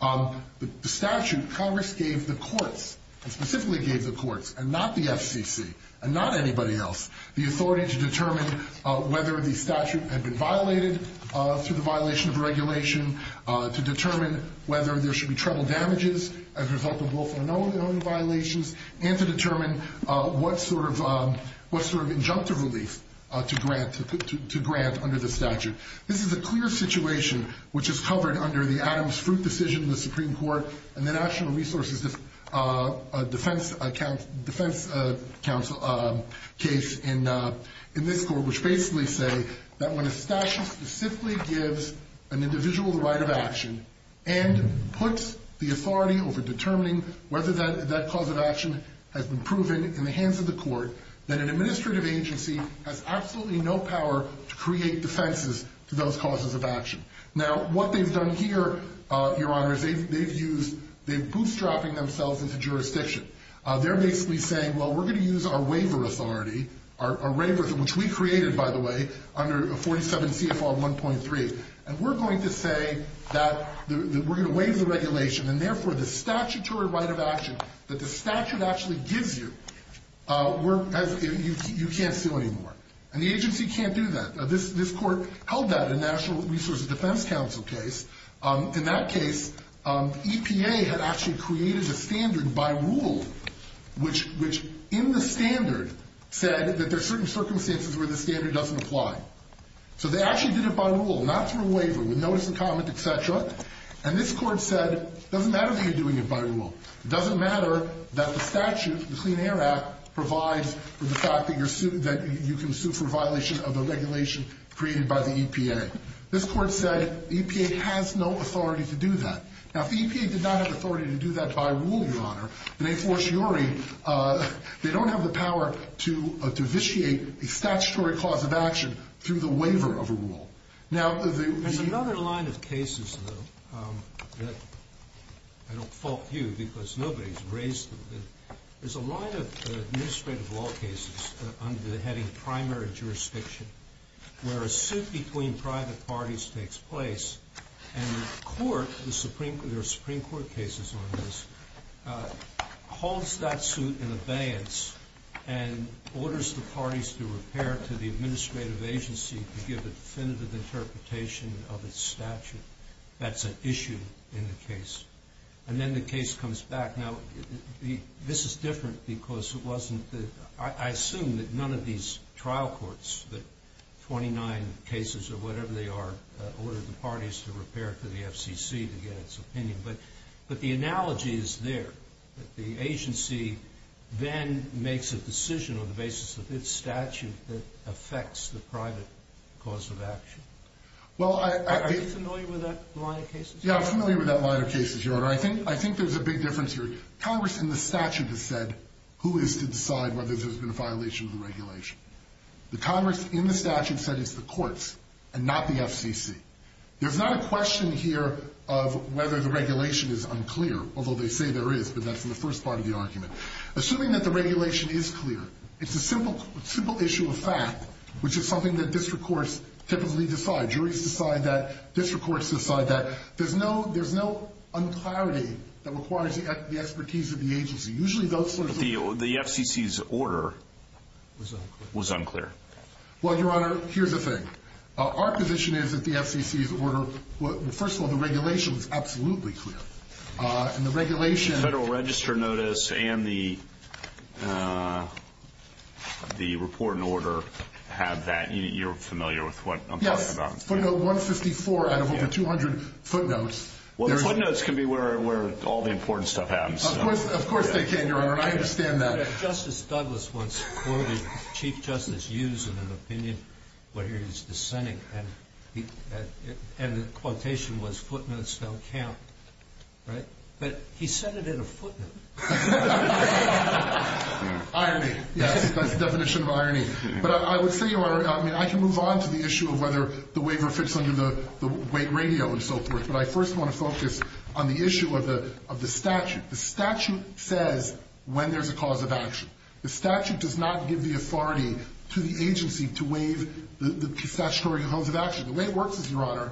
The statute, Congress gave the courts, specifically gave the courts, and not the FTC, and not anybody else, the authority to determine whether the statute had been violated through the violation of regulation, to determine whether there should be trouble damages as a result of both unknown and own violations, and to determine what sort of injunctive relief to grant under the statute. This is a clear situation which is covered under the Adams-Fruit decision in the Supreme Court and the National Resources Defense Council case in this Court, which basically says that when a statute specifically gives an individual the right of action and puts the authority over determining whether that cause of action has been proven in the hands of the court, that an administrative agency has absolutely no power to create defenses to those causes of action. Now, what they've done here, Your Honors, they've used, they're bootstrapping themselves into jurisdiction. They're basically saying, well, we're going to use our waiver authority, which we created, by the way, under 47 CFR 1.3, and we're going to say that we're going to waive the regulation, and therefore the statutory right of action that the statute actually gives you, you can't sue anymore. And the agency can't do that. This Court held that in the National Resources Defense Council case. In that case, EPA had actually created a standard by rule, which in the standard said that there are certain circumstances where the standard doesn't apply. So they actually did it by rule, not through a waiver, with notice and comment, et cetera. And this Court said, it doesn't matter that you're doing it by rule. It doesn't matter that the statute, the Clean Air Act, provides for the fact that you can sue for violation of the regulation created by the EPA. This Court said EPA has no authority to do that. Now, EPA did not have authority to do that by rule, Your Honor. They don't have the power to vitiate a statutory clause of action through the waiver of a rule. Now, there's another line of cases, though, that I don't fault you because nobody's raised them. There's a line of administrative law cases under the heading of primary jurisdiction. Where a suit between private parties takes place, and the Court, there are Supreme Court cases on this, holds that suit in abeyance and orders the parties to refer it to the administrative agency to give a definitive interpretation of its statute. That's an issue in the case. And then the case comes back. Now, this is different because I assume that none of these trial courts, that 29 cases or whatever they are, order the parties to refer it to the FCC to get its opinion. But the analogy is there. The agency then makes a decision on the basis of its statute that affects the private clause of action. Are you familiar with that line of cases? Yeah, I'm familiar with that line of cases, Your Honor. But I think there's a big difference here. Congress in the statute has said who is to decide whether there's been a violation of the regulation. The Congress in the statute says it's the courts and not the FCC. There's not a question here of whether the regulation is unclear, although they say there is, but that's in the first part of the argument. Assuming that the regulation is clear, it's a simple issue of fact, which is something that district courts typically decide. Juries decide that. District courts decide that. There's no unclarity that requires the expertise of the agency. Usually those sorts of things. The FCC's order was unclear. Well, Your Honor, here's the thing. Our position is that the FCC's order, well, first of all, the regulation was absolutely clear. And the regulation. Federal register notice and the report and order have that. You're familiar with what I'm talking about. Footnote 154 out of over 200 footnotes. Well, the footnotes can be where all the important stuff happens. Of course they can, Your Honor. I understand that. Justice Douglas once quoted Chief Justice Hughes in an opinion where he was dissenting, and the quotation was, footnotes don't count. Right? But he said it in a footnote. Irony. That's the definition of irony. But I would say, Your Honor, I can move on to the issue of whether the waiver fits under the weight radio and so forth. But I first want to focus on the issue of the statute. The statute says when there's a cause of action. The statute does not give the authority to the agency to waive the statutory cause of action. The way it works is, Your Honor,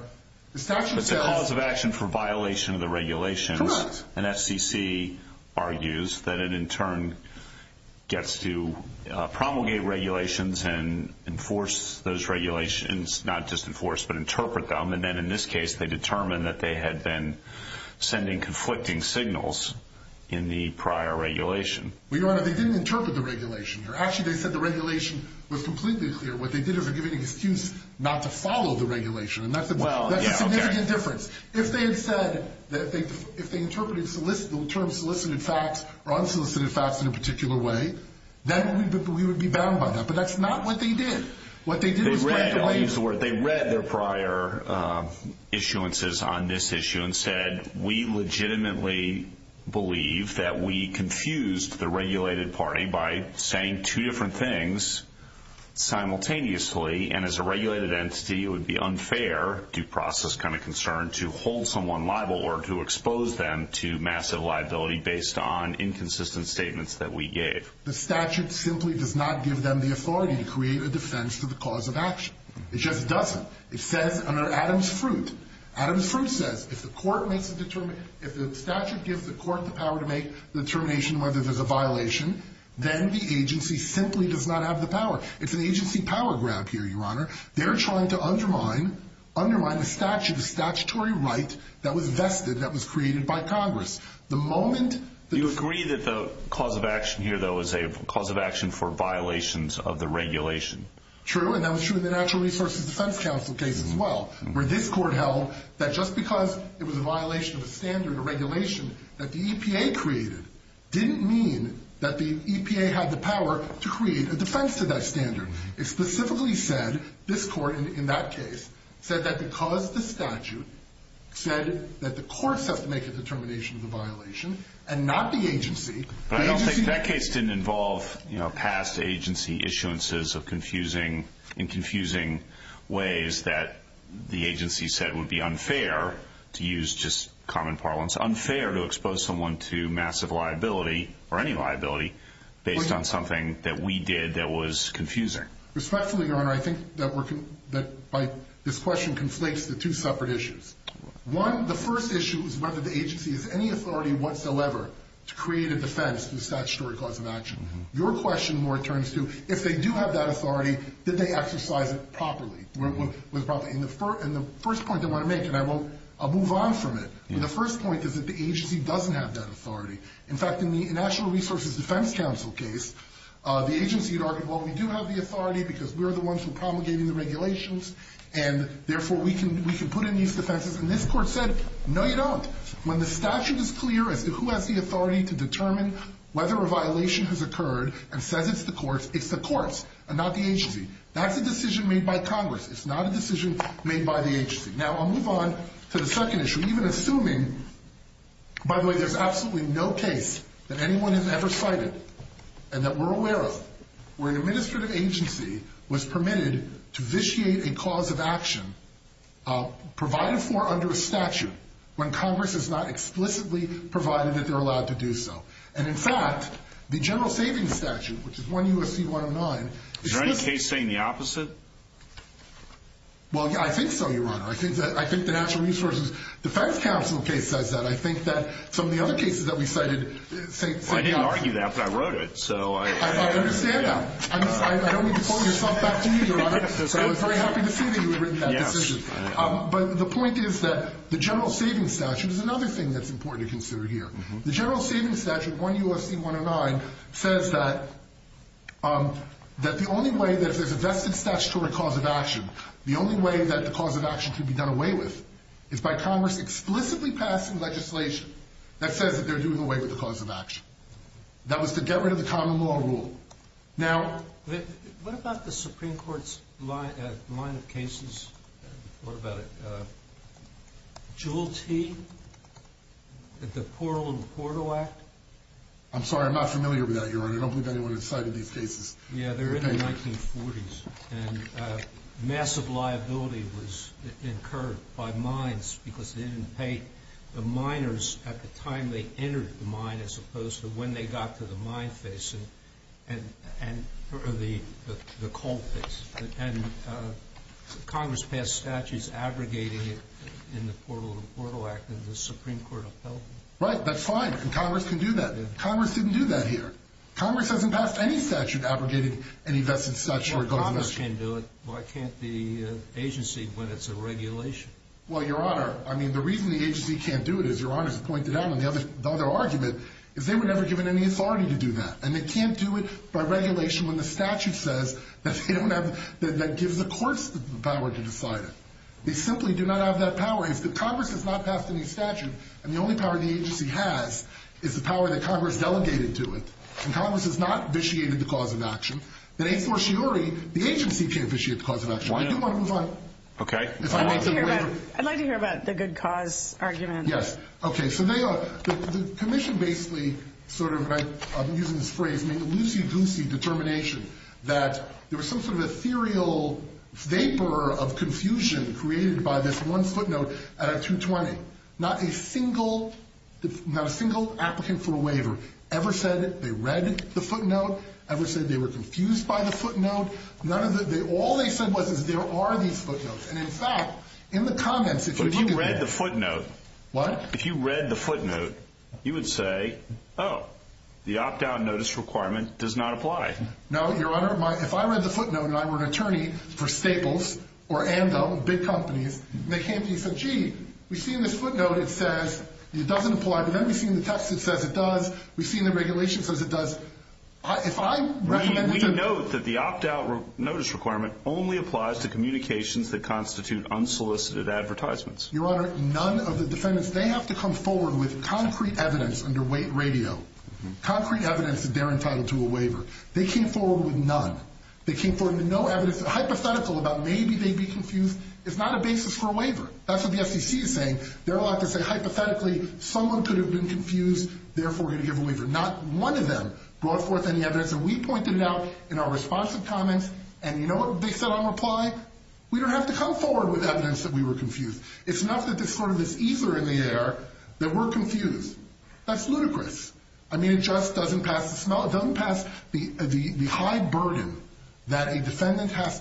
the statute says the cause of action for violation of the regulation, and SEC argues that it in turn gets to promulgate regulations and enforce those regulations, not just enforce, but interpret them. And then in this case, they determine that they had been sending conflicting signals in the prior regulation. Well, Your Honor, they didn't interpret the regulation. Actually, they said the regulation was completely clear. What they did was give an excuse not to follow the regulation. That's the major difference. If they had said that if they interpreted solicitable terms, solicited facts, or unsolicited facts in a particular way, then we would be bound by that. But that's not what they did. What they did is they read their prior issuances on this issue and said, we legitimately believe that we confused the regulated party by saying two different things simultaneously, and as a regulated entity, it would be unfair, due process kind of concern, to hold someone liable or to expose them to massive liability based on inconsistent statements that we gave. The statute simply does not give them the authority to create a defense for the cause of action. It just doesn't. It says under Adams-Fruit, Adams-Fruit says, if the statute gives the court the power to make the determination whether there's a violation, then the agency simply does not have the power. It's an agency power grab here, Your Honor. They're trying to undermine the statutory right that was vested, that was created by Congress. The moment that- Do you agree that the cause of action here, though, is a cause of action for violations of the regulation? True, and that was true in the Natural Resources Defense Council case as well, where this court held that just because it was a violation of the standard or regulation that the EPA created didn't mean that the EPA had the power to create a defense to that standard. It specifically said, this court in that case, said that because the statute said that the courts have to make the determination of the violation and not the agency- But I don't think that case didn't involve, you know, past agency issuances in confusing ways that the agency said would be unfair to use just common parlance, unfair to expose someone to massive liability, or any liability, based on something that we did that was confusing. Respectfully, Your Honor, I think that this question conflates the two separate issues. One, the first issue is whether the agency has any authority whatsoever to create a defense to the statutory cause of action. Your question more turns to, if they do have that authority, did they exercise it properly? And the first point I want to make, and I'll move on from it, the first point is that the agency doesn't have that authority. In fact, in the National Resources Defense Council case, the agency argued, well, we do have the authority because we're the ones who are promulgating the regulations, and therefore we can put in these defenses. And this court said, no, you don't. When the statute is clear as to who has the authority to determine whether a violation has occurred and says it's the courts, it's the courts and not the agency. That's a decision made by Congress. It's not a decision made by the agency. Now, I'll move on to the second issue, even assuming, by the way, there's absolutely no case that anyone has ever cited and that we're aware of where an administrative agency was permitted to vitiate a cause of action provided for under a statute when Congress has not explicitly provided that they're allowed to do so. And, in fact, the General Savings Statute, which is 1 U.S.C. 109. Is there any case saying the opposite? Well, yeah, I think so, Your Honor. I think the National Resources Defense Council case says that. I think that some of the other cases that we cited say the opposite. I didn't argue that, but I wrote it. I understand that. I don't mean to pull your stuff back to you, Your Honor, but I was very happy to see that you had written that decision. But the point is that the General Savings Statute is another thing that's important to consider here. The General Savings Statute, 1 U.S.C. 109, says that the only way that there's a vested statutory cause of action, the only way that the cause of action can be done away with, is by Congress explicitly passing legislation that says that they're doing away with the cause of action. That was the get rid of the common law rule. Now, what about the Supreme Court's line of cases? What about it? Jewel Tee? The Portland Portal Act? I'm sorry. I'm not familiar with that, Your Honor. I don't believe anyone has cited these cases. Yeah, they're in the 1940s. And massive liability was incurred by mines because they didn't pay the miners at the time they entered the mine, as opposed to when they got to the mine face and the coal face. And Congress passed statutes abrogating it in the Portland Portal Act of the Supreme Court of Health. Right. That's fine. Congress can do that. Congress didn't do that here. Congress hasn't passed any statute abrogating any vested statutory cause of action. Congress can do it. Why can't the agency when it's a regulation? Well, Your Honor, I mean, the reason the agency can't do it, as Your Honor has pointed out in the other argument, is they were never given any authority to do that. And they can't do it by regulation when the statute says that gives the courts the power to decide it. They simply do not have that power. If Congress has not passed any statute, and the only power the agency has is the power that Congress delegated to it, and Congress has not vitiated the cause of action, then, a fortiori, the agency can't vitiate the cause of action. Why do you want to move on? Okay. I'd like to hear about the good cause argument. Yes. Okay. So the commission basically sort of, I'm using this phrase, a loosey-goosey determination that there was some sort of ethereal vapor of confusion created by this one footnote at a 220. Not a single applicant for a waiver ever said they read the footnote, ever said they were confused by the footnote. All they said was there are these footnotes. And, in fact, in the comments, if you look at the footnote. What? If you read the footnote, you would say, oh, the opt-out notice requirement does not apply. No, Your Honor. If I read the footnote and I were an attorney for Staples or Anvil, big companies, and they came to me and said, gee, we've seen this footnote. It says it doesn't apply. We've never seen the text that says it does. We've seen the regulation that says it does. If I read the footnote. We note that the opt-out notice requirement only applies to communications that constitute unsolicited advertisements. Your Honor, none of the defendants, they have to come forward with concrete evidence under radio. Concrete evidence to guarantee to a waiver. They came forward with none. They came forward with no evidence, hypothetical about maybe they'd be confused. It's not a basis for a waiver. That's what the SEC is saying. They're allowed to say hypothetically someone could have been confused, therefore going to give a waiver. Not one of them brought forth any evidence. And we pointed it out in our response to comments. And you know what Vick said on reply? We don't have to come forward with evidence that we were confused. It's not that this court is eager in the air that we're confused. That's ludicrous. I mean, it just doesn't pass the high burden that a person has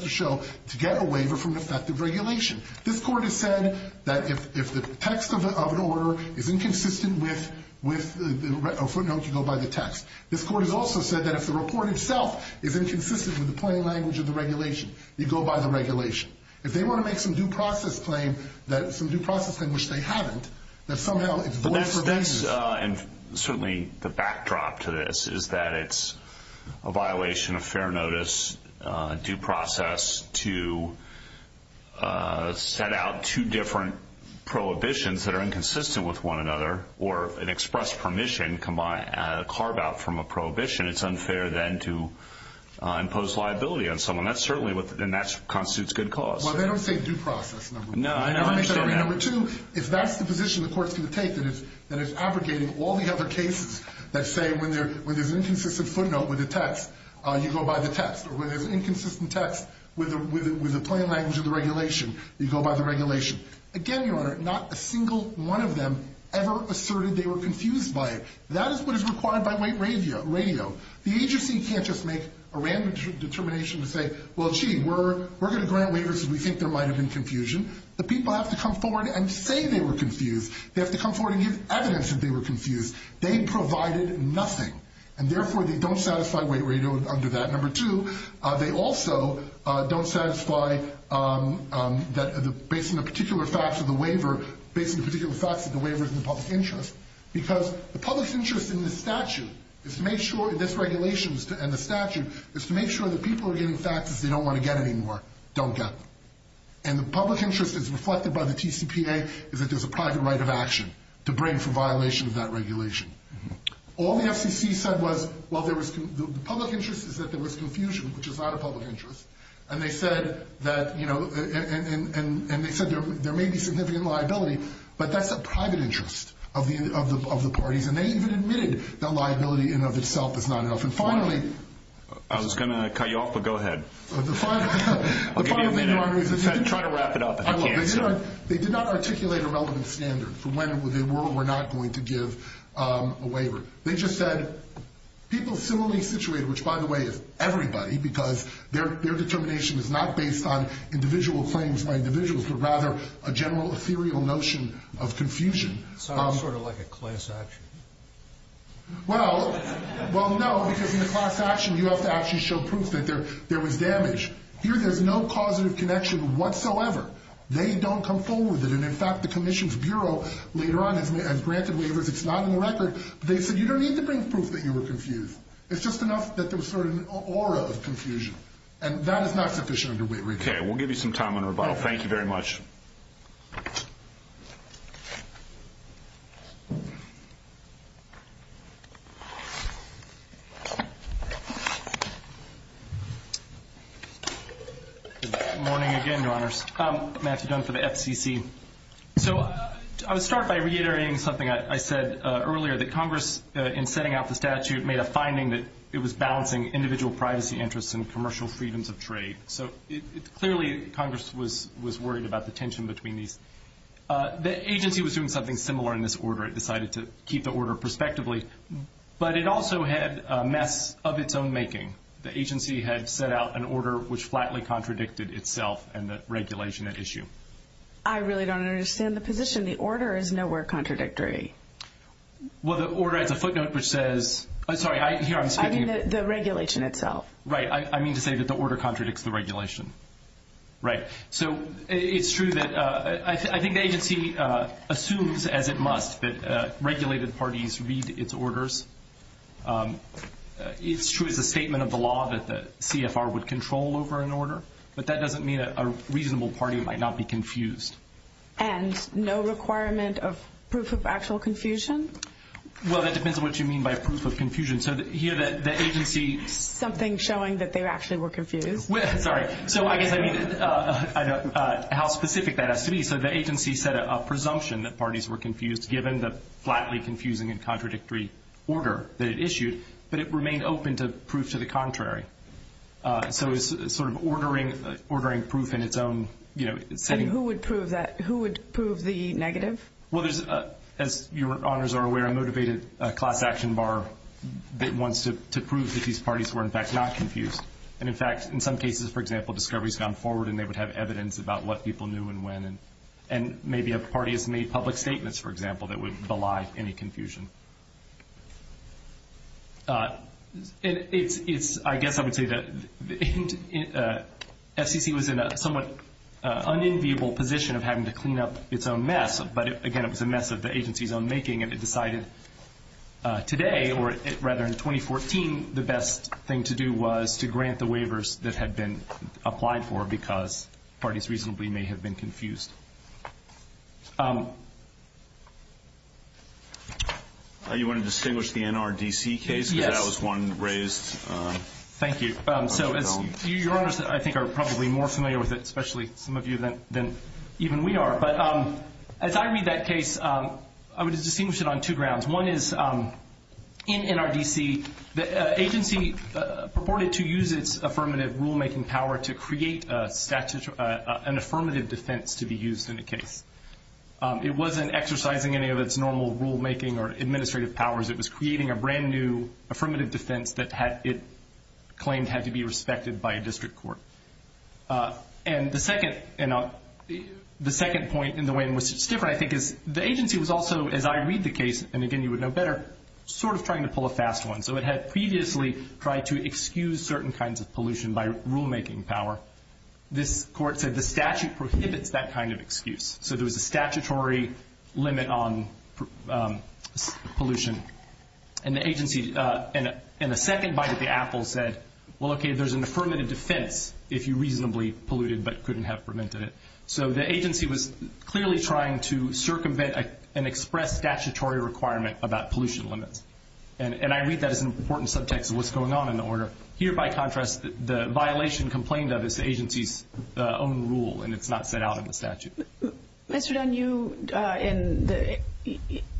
to show to get a waiver from effective regulation. This court has said that if the text of an order is inconsistent with a footnote to go by the text, this court has also said that if the report itself is inconsistent with the plain language of the regulation, you go by the regulation. If they want to make some due process claim, some due process claim which they haven't, that somehow it's both of them. And certainly the backdrop to this is that it's a violation of fair notice, due process to set out two different prohibitions that are inconsistent with one another or an express permission combined with a carve-out from a prohibition. It's unfair then to impose liability on someone. And that constitutes good cause. Well, they don't say due process. No. Number two, if that's the position the court can take, that it's abrogating all the other cases that say when there's an inconsistent footnote with the text, you go by the text. Or when there's inconsistent text with the plain language of the regulation, you go by the regulation. Again, Your Honor, not a single one of them ever asserted they were confused by it. That is what is required by weight radio. The agency can't just make a random determination to say, well, gee, we're going to grant waivers if we think there might have been confusion. The people have to come forward and say they were confused. They have to come forward and give evidence that they were confused. They provided nothing. And, therefore, they don't satisfy weight radio under that. And, number two, they also don't satisfy, based on the particular facts of the waiver, based on the particular facts of the waiver in the public interest. Because the public interest in this statute is to make sure, in this regulation and the statute, is to make sure the people are getting faxes they don't want to get anymore don't get. And the public interest, as reflected by the TCPA, is that there's a private right of action to bring for violation of that regulation. All the FCC said was, well, the public interest is that there was confusion, which is not a public interest. And they said that, you know, and they said there may be significant liability, but that's a private interest of the parties. And they even admitted that liability in and of itself is not enough. And, finally... I was going to cut you off, but go ahead. The final thing I'm wondering... Try to wrap it up if you can. They did not articulate a relevant standard for when they were or were not going to give a waiver. They just said people similarly situated, which, by the way, is everybody, because their determination is not based on individual claims by individuals, but rather a general serial notion of confusion. Sounds sort of like a class action. Well, no, because in a class action you have to actually show proof that there was damage. Here there's no causative connection whatsoever. They don't come forward with it. And, in fact, the Commission's Bureau later on has granted waivers. It's not on the record. They said you don't need to bring proof that you were confused. It's just enough that there's sort of an aura of confusion. And that is not what they're showing to waivers. Okay, we'll give you some time on the rebuttal. Thank you very much. Good morning again, Your Honors. Matthew Jones for the FCC. So I'll start by reiterating something I said earlier, that Congress, in setting out the statute, made a finding that it was balancing individual privacy interests and commercial freedoms of trade. So clearly Congress was worried about the tension between these. The agency was doing something similar in this order. It decided to keep the order prospectively. But it also had a mess of its own making. The agency had set out an order which flatly contradicted itself and the regulation at issue. I really don't understand the position. The order is nowhere contradictory. Well, the order has a footnote which says the regulation itself. Right. I mean to say that the order contradicts the regulation. Right. So it's true that I think the agency assumes, as it must, that regulated parties read its orders. It's true it's a statement of the law that the CFR would control over an order. But that doesn't mean a reasonable party might not be confused. And no requirement of proof of actual confusion? Well, that depends on what you mean by proof of confusion. So here the agency... Something showing that they actually were confused. Sorry. So I guess I mean how specific that has to be. So the agency set a presumption that parties were confused given the flatly confusing and contradictory order that it issued. But it remained open to proof to the contrary. So it's sort of ordering proof in its own... And who would prove that? Who would prove the negative? Well, as your honors are aware, a motivated class action bar wants to prove that these parties were in fact not confused. And in fact, in some cases, for example, discovery has gone forward and they would have evidence about what people knew and when. And maybe a party has made public statements, for example, that would belie any confusion. I guess I would say that FCC was in a somewhat unenviable position of having to clean up its own mess. But again, it was a mess of the agency's own making. And it decided today, or rather in 2014, the best thing to do was to grant the waivers that had been applied for because parties reasonably may have been confused. You want to distinguish the NRDC case? Yes. Because that was one raised. Thank you. So your honors, I think, are probably more familiar with it, especially some of you than even we are. But as I read that case, I would distinguish it on two grounds. One is in NRDC, the agency purported to use its affirmative rulemaking power to create an affirmative defense to be used in the case. It wasn't exercising any of its normal rulemaking or administrative powers. It was creating a brand new affirmative defense that it claimed had to be respected by a district court. And the second point in the way in which it's different, I think, is the agency was also, as I read the case, and again, you would know better, sort of trying to pull a fast one. So it had previously tried to excuse certain kinds of pollution by rulemaking power. This court said the statute prohibits that kind of excuse. So there was a statutory limit on pollution. And the second bite of the apple said, well, okay, there's an affirmative defense if you reasonably polluted but couldn't have prevented it. So the agency was clearly trying to circumvent an express statutory requirement about pollution limits. And I read that as an important subject to what's going on in the order. Here, by contrast, the violation complained of is the agency's own rule, and it's not set out in the statute. Mr. Dunn,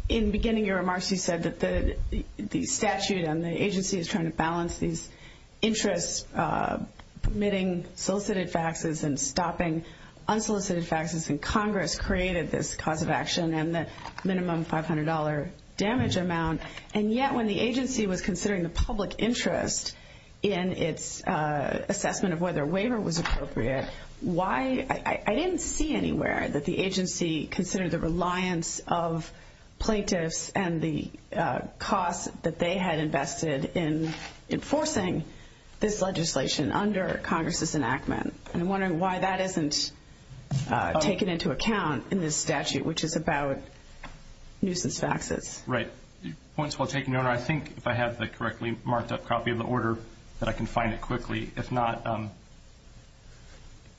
in beginning your remarks, you said that the statute and the agency is trying to balance these interests, permitting solicited faxes and stopping unsolicited faxes in Congress created this cause of action and this minimum $500 damage amount. And yet, when the agency was considering the public interest in its assessment of whether a waiver was appropriate, I didn't see anywhere that the agency considered the reliance of plaintiffs and the cost that they had invested in enforcing this legislation under Congress's enactment. I'm wondering why that isn't taken into account in this statute, which is about nuisance faxes. Right. I think if I have the correctly marked-up copy of the order that I can find it quickly. If not,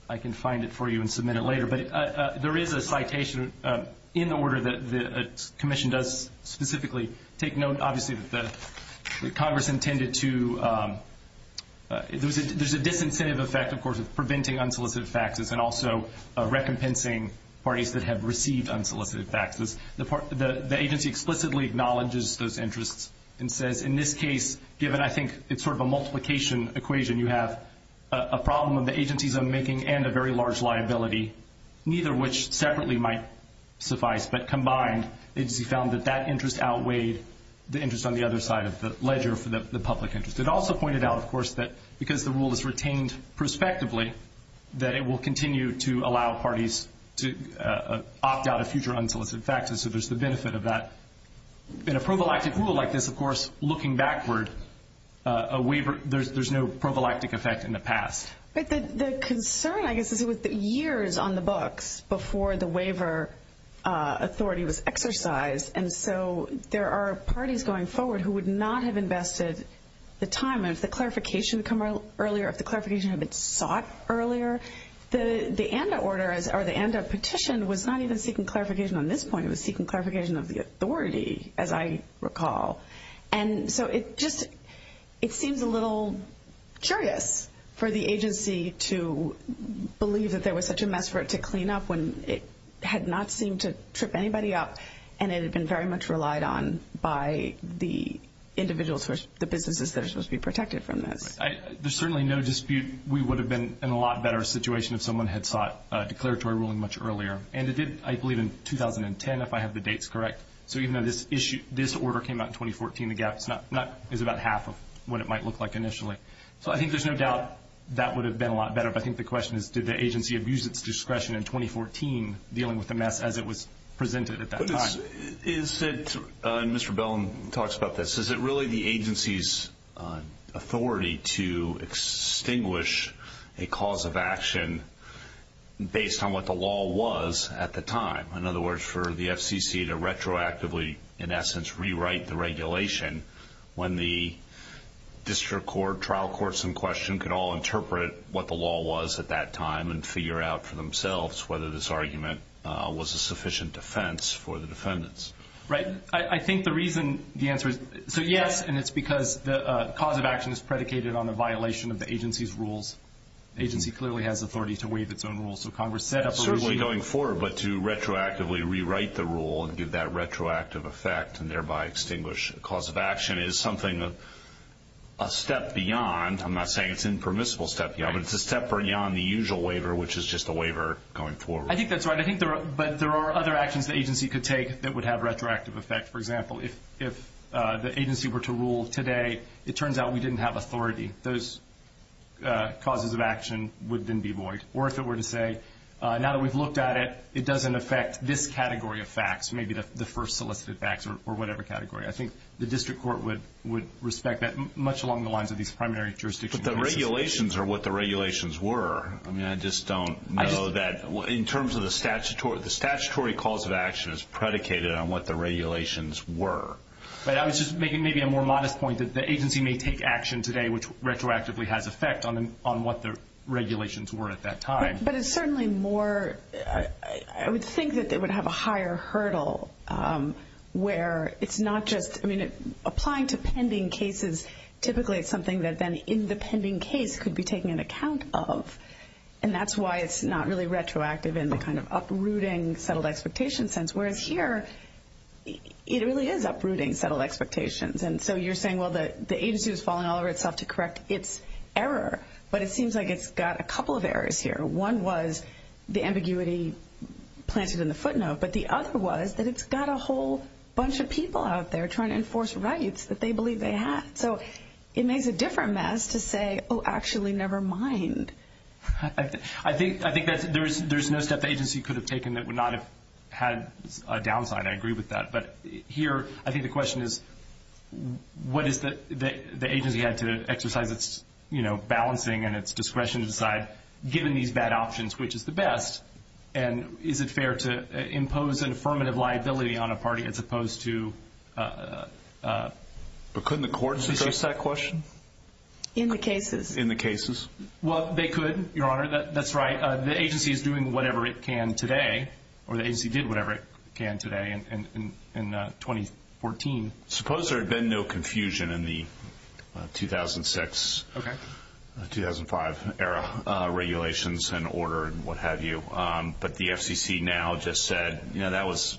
I can find it for you and submit it later. But there is a citation in the order that the commission does specifically take note. Obviously, the Congress intended to – there's a disincentive effect, of course, of preventing unsolicited faxes and also recompensing parties that have received unsolicited faxes. The agency explicitly acknowledges those interests and says, in this case, given I think it's sort of a multiplication equation, you have a problem of the agency's own making and a very large liability, neither of which separately might suffice. But combined, the agency found that that interest outweighs the interest on the other side of the ledger for the public interest. It also pointed out, of course, that because the rule is retained prospectively, that it will continue to allow parties to opt out of future unsolicited faxes. So there's the benefit of that. In a probalactic rule like this, of course, looking backward, there's no probalactic effect in the past. But the concern, I guess, is it was years on the books before the waiver authority was exercised, and so there are parties going forward who would not have invested the time and if the clarification had come earlier, if the clarification had been sought earlier, the ANDA order or the ANDA petition was not even seeking clarification on this point. It was seeking clarification of the authority, as I recall. And so it just seems a little curious for the agency to believe that there was such a mess for it to clean up when it had not seemed to trip anybody up and it had been very much relied on by the individuals, the businesses that are supposed to be protected from this. There's certainly no dispute we would have been in a lot better situation if someone had sought declaratory ruling much earlier. And I believe in 2010, if I have the dates correct, so even though this order came out in 2014, the gap is about half of what it might look like initially. So I think there's no doubt that would have been a lot better, but I think the question is did the agency abuse its discretion in 2014, dealing with the mess as it was presented at that time. Mr. Bellin talks about this. Is it really the agency's authority to extinguish a cause of action based on what the law was at the time? In other words, for the FCC to retroactively, in essence, rewrite the regulation when the district court, trial courts in question, could all interpret what the law was at that time and figure out for themselves whether this argument was a sufficient defense for the defendants. Right. I think the reason the answer is yes, and it's because the cause of action is predicated on a violation of the agency's rules. The agency clearly has authority to waive its own rules. So Congress set up a regime. Certainly going forward, but to retroactively rewrite the rule and give that retroactive effect and thereby extinguish a cause of action is something a step beyond. I'm not saying it's an impermissible step beyond, but it's a step beyond the usual waiver, which is just a waiver going forward. I think that's right. I think there are other actions the agency could take that would have retroactive effect. For example, if the agency were to rule today, it turns out we didn't have authority. Those causes of action would then be void. Or if it were to say, now that we've looked at it, it doesn't affect this category of facts, maybe the first selected facts or whatever category. I think the district court would respect that much along the lines of these primary jurisdictions. The regulations are what the regulations were. I just don't know that in terms of the statutory cause of action is predicated on what the regulations were. I was just making maybe a more modest point that the agency may take action today, which retroactively has effect on what the regulations were at that time. But it's certainly more, I would think that it would have a higher hurdle where it's not just, I mean, applying to pending cases typically is something that then the pending case could be taken into account of. And that's why it's not really retroactive in the kind of uprooting settled expectation sense, whereas here it really is uprooting settled expectations. And so you're saying, well, the agency has fallen all over itself to correct its error, but it seems like it's got a couple of errors here. One was the ambiguity planted in the footnote, but the other was that it's got a whole bunch of people out there trying to enforce rights that they believe they have. So it makes a different mess to say, oh, actually, never mind. I think that there's no step the agency could have taken that would not have had a downside. I agree with that. But here I think the question is what is the agency had to exercise its, you know, balancing and its discretion to decide, given these bad options, which is the best, and is it fair to impose an affirmative liability on a party as opposed to... But couldn't the courts have asked that question? In the cases. In the cases. Well, they could, Your Honor. That's right. The agency is doing whatever it can today, or the agency did whatever it can today in 2014. Suppose there had been no confusion in the 2006, 2005 era regulations and order and what have you, but the FCC now just said, you know, that was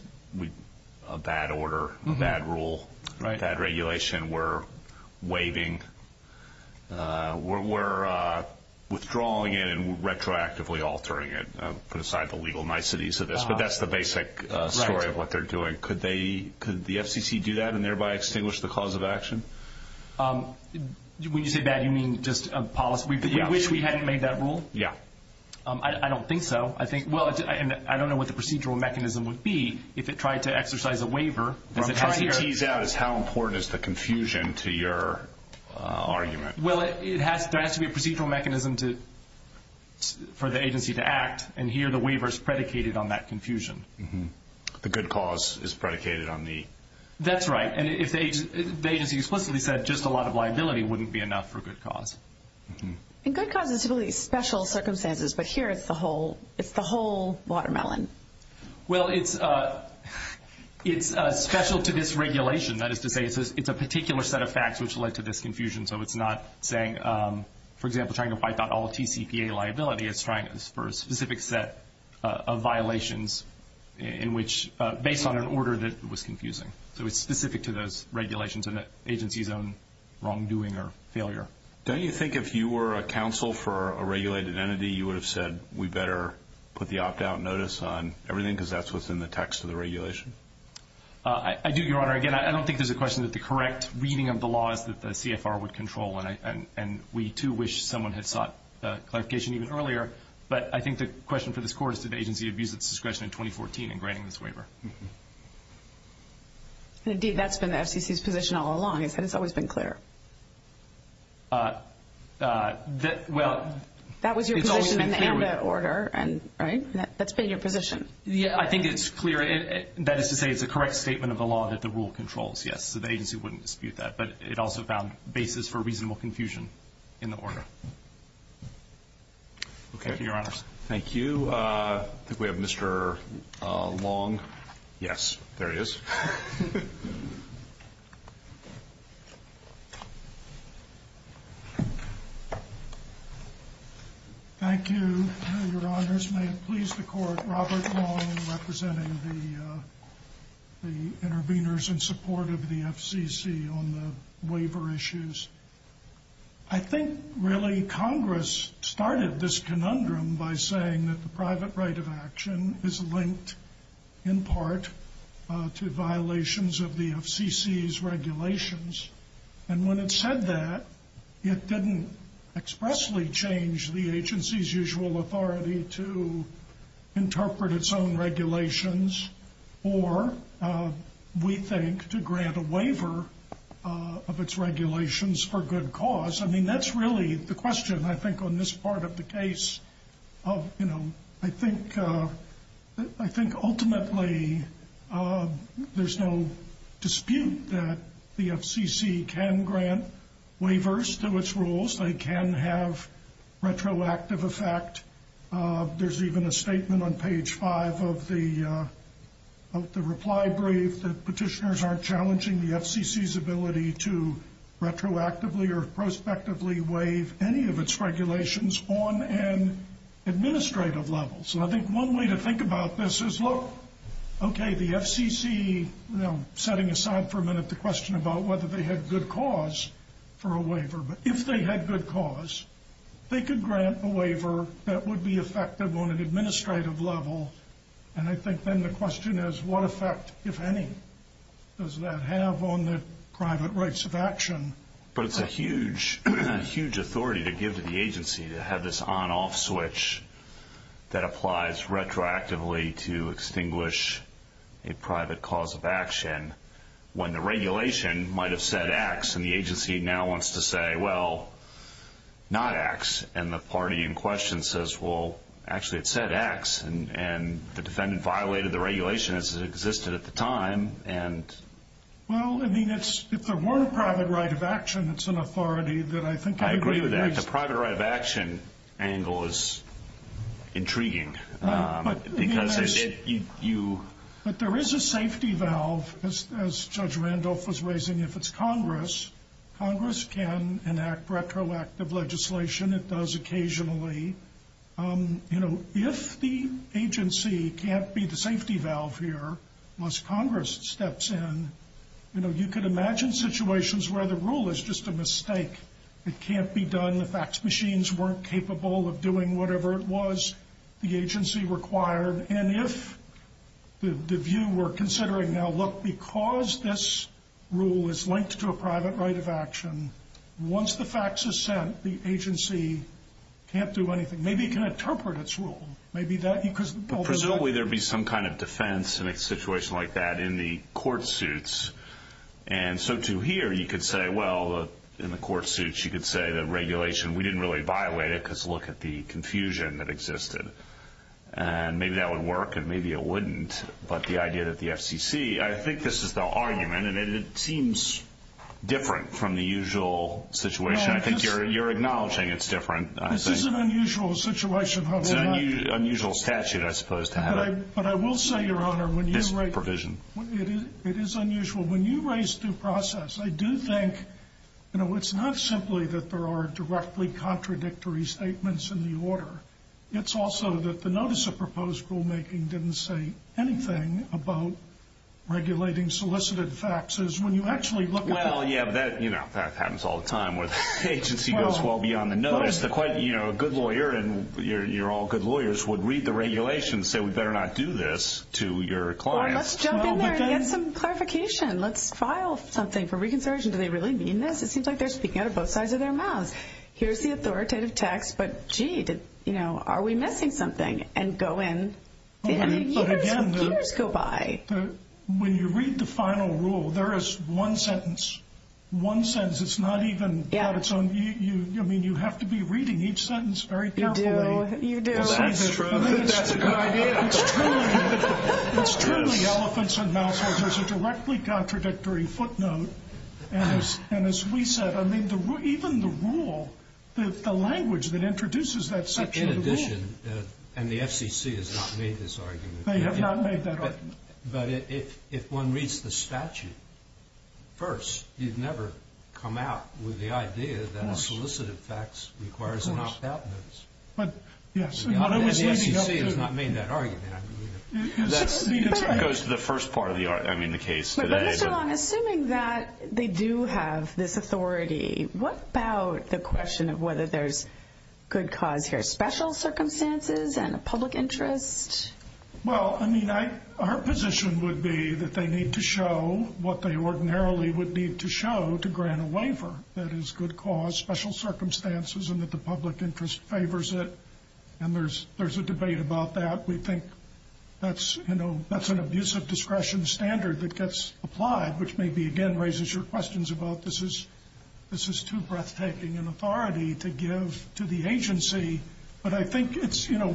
a bad order, a bad rule, bad regulation. We're waiving. We're withdrawing it and retroactively altering it. Put aside the legal niceties of this, but that's the basic story of what they're doing. Could the FCC do that and thereby extinguish the cause of action? When you say bad, you mean just a policy? Yeah. You wish we hadn't made that rule? Yeah. I don't think so. I think, well, I don't know what the procedural mechanism would be if it tried to exercise a waiver. What I'm trying to tease out is how important is the confusion to your argument. Well, there has to be a procedural mechanism for the agency to act, and here the waiver is predicated on that confusion. The good cause is predicated on the... That's right. And the agency explicitly said just a lot of liability wouldn't be enough for a good cause. And good cause is really special circumstances, but here it's the whole watermelon. Well, it's special to this regulation. That is to say it's a particular set of facts which led to this confusion, so it's not saying, for example, trying to fight out all TCPA liability. It's trying for a specific set of violations based on an order that was confusing. So it's specific to those regulations and that agency's own wrongdoing or failure. Don't you think if you were a counsel for a regulated entity, you would have said we better put the opt-out notice on everything because that's within the text of the regulation? I do, Your Honor. Again, I don't think there's a question that the correct reading of the law is that the CFR would control, and we too wish someone had sought clarification even earlier, but I think the question for this Court is did the agency abuse its discretion in 2014 in granting this waiver? Indeed, that's been the SEC's position all along. It's always been clear. Well, it's always been clear. That was your position in the AMFA order, right? That's been your position. Yeah, I think it's clear. That is to say it's a correct statement of the law that the rule controls, yes, so the agency wouldn't dispute that, but it also found basis for reasonable confusion in the order. Thank you, Your Honors. Thank you. I think we have Mr. Long. Yes, there he is. Thank you, Your Honors. May it please the Court, Robert Long representing the interveners in support of the FCC on the waiver issues. I think really Congress started this conundrum by saying that the private right of action is linked in part to violations of the FCC's regulations, and when it said that, it didn't expressly change the agency's usual authority to interpret its own regulations or, we think, to grant a waiver of its regulations for good cause. I mean, that's really the question, I think, on this part of the case. I think ultimately there's no dispute that the FCC can grant waivers to its rules. They can have retroactive effect. There's even a statement on page five of the reply brief that petitioners are challenging the FCC's ability to retroactively or prospectively waive any of its regulations on an administrative level. So I think one way to think about this is, look, okay, the FCC, setting aside for a minute the question about whether they had good cause for a waiver, but if they had good cause, they could grant a waiver that would be effective on an administrative level, and I think then the question is, what effect, if any, does that have on the private rights of action? But it's a huge, huge authority to give to the agency to have this on-off switch that applies retroactively to extinguish a private cause of action when the regulation might have said X, and the agency now wants to say, well, not X, and the party in question says, well, actually it said X, and the defendant violated the regulation as it existed at the time, and... Well, I mean, if there were a private right of action, it's an authority that I think... I agree with that. The private right of action angle is intriguing. But there is a safety valve, as Judge Randolph was raising, if it's Congress. Congress can enact retroactive legislation. It does occasionally. You know, if the agency can't be the safety valve here once Congress steps in, you know, you could imagine situations where the rule is just a mistake. It can't be done. The fax machines weren't capable of doing whatever it was the agency required. And if the view we're considering now, look, because this rule is linked to a private right of action, once the fax is sent, the agency can't do anything. Maybe it can interpret its rule. Maybe that... Presumably there would be some kind of defense in a situation like that in the court suits. And so to here, you could say, well, in the court suits, you could say that regulation, we didn't really violate it because look at the confusion that existed. And maybe that would work and maybe it wouldn't. But the idea that the FCC... I think this is the argument, and it seems different from the usual situation. I think you're acknowledging it's different. This is an unusual situation, Your Honor. It's an unusual statute, I suppose, to have it. But I will say, Your Honor, when you write... It's a provision. It is unusual. When you raise due process, I do think, you know, it's not simply that there are directly contradictory statements in the order. It's also that the notice of proposed rulemaking didn't say anything about regulating solicited faxes. When you actually look at... Well, yeah, that happens all the time. The agency goes well beyond the notice. You know, a good lawyer, and you're all good lawyers, would read the regulations and say we better not do this to your client. Let's jump in there and get some clarification. Let's file something for reconsideration. Do they really mean this? It seems like they're speaking out of both sides of their mouth. Here's the authoritative text, but, gee, you know, are we missing something? And go in... But, again, when you read the final rule, there is one sentence. One sentence. It's not even... I mean, you have to be reading each sentence very carefully. You do. It's clearly elephants and mousetraps. There's a directly contradictory footnote. And as we said, I mean, even the rule, the language that introduces that section of the rule... In addition, and the FCC has not made this argument. They have not made that argument. But if one reads the statute first, you'd never come out with the idea that a solicited fax requires a knockout notice. But, yes. The FCC has not made that argument. That's the first part of the argument, I mean, the case. So, I'm assuming that they do have this authority. What about the question of whether there's good cause here, special circumstances and a public interest? Well, I mean, our position would be that they need to show what they ordinarily would need to show to grant a waiver. That is, good cause, special circumstances, and that the public interest favors it. And there's a debate about that. We think that's an abusive discretion standard that gets applied, which maybe, again, raises your questions about this is too breathtaking an authority to give to the agency. But I think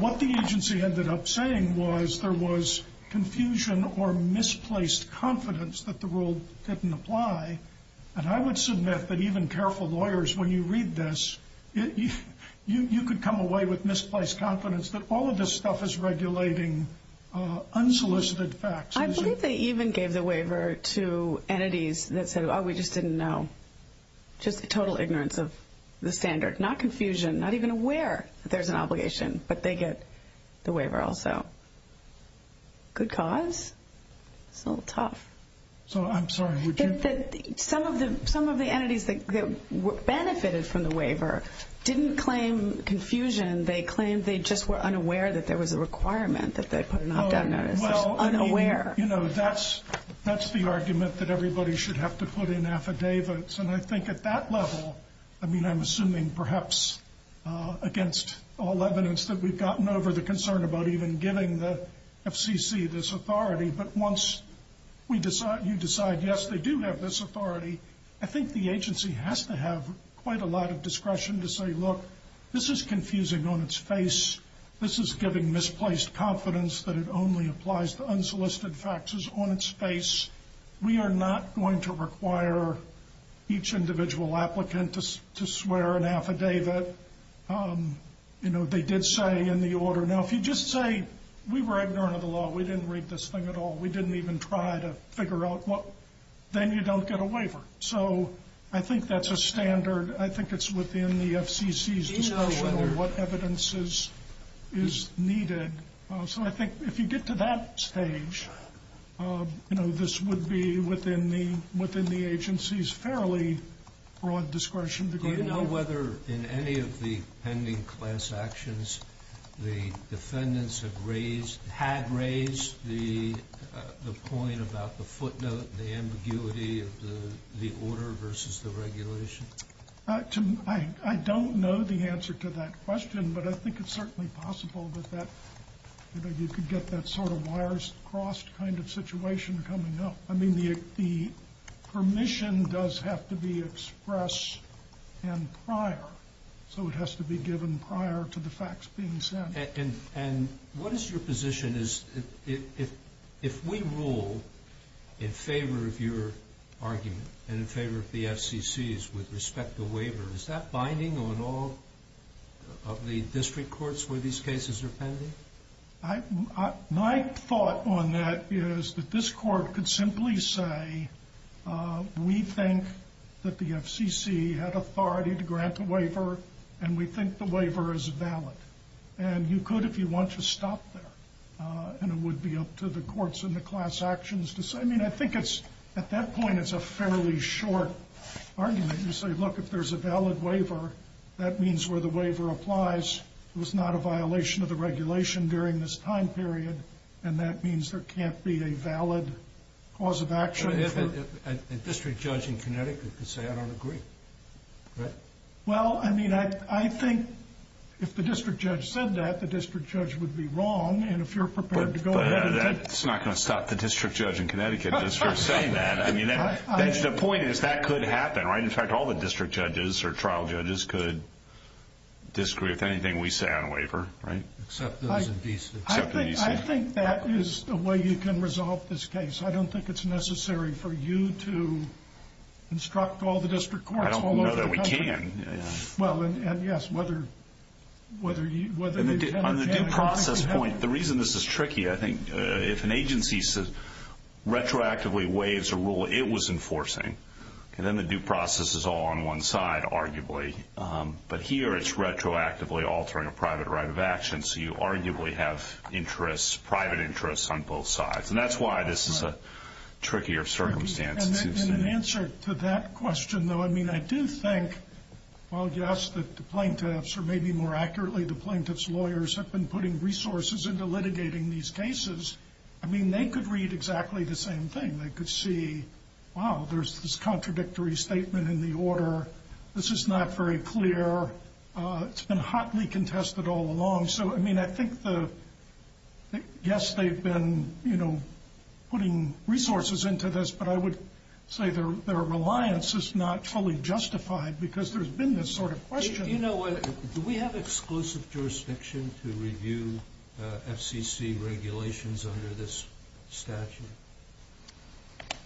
what the agency ended up saying was there was confusion or misplaced confidence that the rule didn't apply. And I would submit that even careful lawyers, when you read this, you could come away with misplaced confidence that all of this stuff is regulating unsolicited fax. I believe they even gave the waiver to entities that said, oh, we just didn't know, just the total ignorance of the standard. Not confusion, not even aware that there's an obligation, but they get the waiver also. Good cause? It's a little tough. I'm sorry, would you? Some of the entities that benefited from the waiver didn't claim confusion. They claimed they just were unaware that there was a requirement that they put an opt-out notice. Unaware. That's the argument that everybody should have to put in affidavits. And I think at that level, I mean, I'm assuming perhaps against all evidence that we've gotten over the concern about even giving the FCC this authority. But once you decide, yes, they do have this authority, I think the agency has to have quite a lot of discretion to say, look, this is confusing on its face. This is giving misplaced confidence that it only applies to unsolicited faxes on its face. We are not going to require each individual applicant to swear an affidavit. You know, they did say in the order. Now, if you just say we were ignorant of the law, we didn't read this thing at all, we didn't even try to figure out what, then you don't get a waiver. So I think that's a standard. I think it's within the FCC's discretion what evidence is needed. So I think if you get to that stage, you know, this would be within the agency's fairly broad discretion. Do you know whether in any of the pending class actions the defendants had raised the point about the footnote, the ambiguity of the order versus the regulation? I don't know the answer to that question, but I think it's certainly possible that you could get that sort of wires crossed kind of situation coming up. I mean, the permission does have to be expressed and prior. So it has to be given prior to the fax being sent. And what is your position is if we rule in favor of your argument and in favor of the FCC's with respect to the waiver, is that binding on all of the district courts where these cases are pending? My thought on that is that this court could simply say, we think that the FCC had authority to grant a waiver, and we think the waiver is valid. And you could if you want to stop there. And it would be up to the courts in the class actions to say, I mean, I think it's, at that point, it's a fairly short argument. You say, look, if there's a valid waiver, that means where the waiver applies. It was not a violation of the regulation during this time period. And that means there can't be a valid cause of action. A district judge in Connecticut could say, I don't agree. Well, I mean, I think if the district judge said that, the district judge would be wrong. And if you're prepared to go ahead. It's not going to stop the district judge in Connecticut. The point is, that could happen, right? In fact, all the district judges or trial judges could disagree with anything we say on a waiver, right? Except those in DC. I think that is the way you can resolve this case. I don't think it's necessary for you to instruct all the district courts. I don't know that we can. Well, and yes, whether you can or can't. The reason this is tricky, I think, if an agency retroactively waives a rule it was enforcing, then the due process is all on one side, arguably. But here it's retroactively altering a private right of action, so you arguably have private interests on both sides. And that's why this is a trickier circumstance. And in answer to that question, though, I mean, I do think, well, yes, the plaintiffs, or maybe more accurately the plaintiff's lawyers, have been putting resources into litigating these cases. I mean, they could read exactly the same thing. They could see, wow, there's this contradictory statement in the order. This is not very clear. It's been hotly contested all along. So, I mean, I think, yes, they've been, you know, putting resources into this, but I would say their reliance is not fully justified because there's been this sort of question. You know what? Do we have exclusive jurisdiction to review FCC regulations under this statute?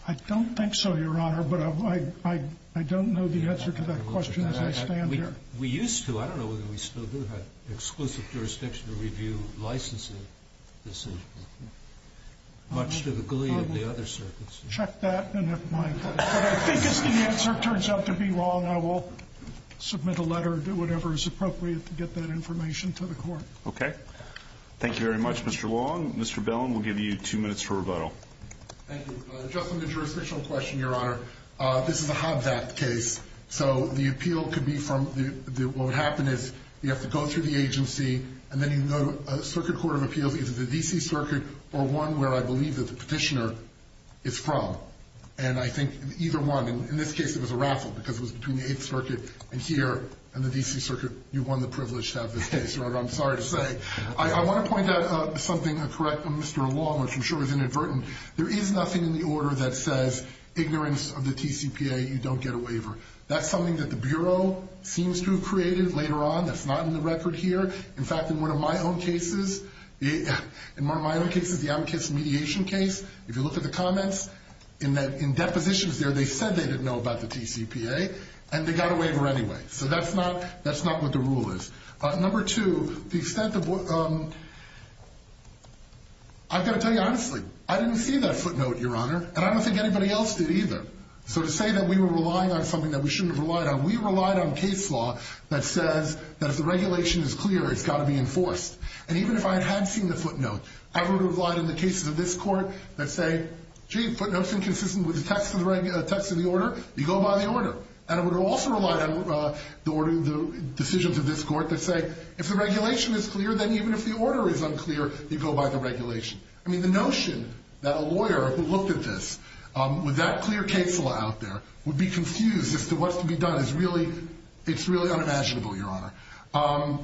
I don't think so, Your Honor, but I don't know the answer to that question as I stand here. We used to. I don't know whether we still do, but exclusive jurisdiction to review licensing decisions. Much to the glee of the other circuits. Check that, and if my answer turns out to be wrong, I will submit a letter and do whatever is appropriate to get that information to the court. Okay. Thank you very much, Mr. Long. Mr. Bellin, we'll give you two minutes for rebuttal. Thank you. Just on the jurisdictional question, Your Honor, this is a Hobbs Act case, so the appeal could be from, what would happen is you have to go through the agency, and then you can go to Circuit Court of Appeal, either the D.C. Circuit, or one where I believe there's a petitioner, it's from. And I think either one. In this case, it was a raffle because it was between the 8th Circuit and here, and the D.C. Circuit, you won the privilege to have this case, Your Honor. I'm sorry to say. I want to point out something and correct Mr. Long, which I'm sure is inadvertent. There is nothing in the order that says, ignorance of the TCPA, you don't get a waiver. That's something that the Bureau seems to have created later on that's not in the record here, in fact, in one of my own cases, in one of my own cases, the advocacy mediation case, if you look at the comments, in depositions there, they said they didn't know about the TCPA, and they got a waiver anyway. So that's not what the rule is. Number two, the extent of what – I've got to tell you honestly, I didn't see that footnote, Your Honor, and I don't think anybody else did either. So to say that we were relying on something that we shouldn't have relied on, we relied on case law that says that the regulation is clear, it's got to be enforced. And even if I hadn't seen the footnote, I would have relied on the cases of this court that say, gee, footnotes inconsistent with the text of the order, you go by the order. And I would have also relied on the decisions of this court that say, if the regulation is clear, then even if the order is unclear, you go by the regulation. I mean, the notion that a lawyer who looked at this with that clear case law out there would be confused as to what's to be done is really unimaginable, Your Honor.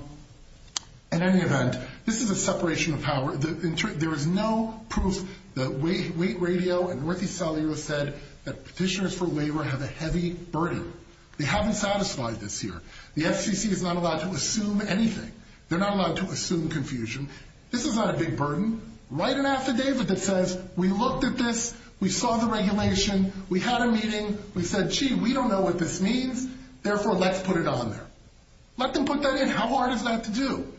In any event, this is a separation of power. There is no proof. The Wake Radio and Worthy Saliwa said that petitioners for waiver have a heavy burden. They haven't satisfied this here. The FCC is not allowed to assume anything. They're not allowed to assume confusion. This is not a big burden. Right and after David that says, we looked at this, we saw the regulation, we had a meeting, we said, gee, we don't know what this means, therefore, let's put it on there. Let them put that in. How hard is that to do?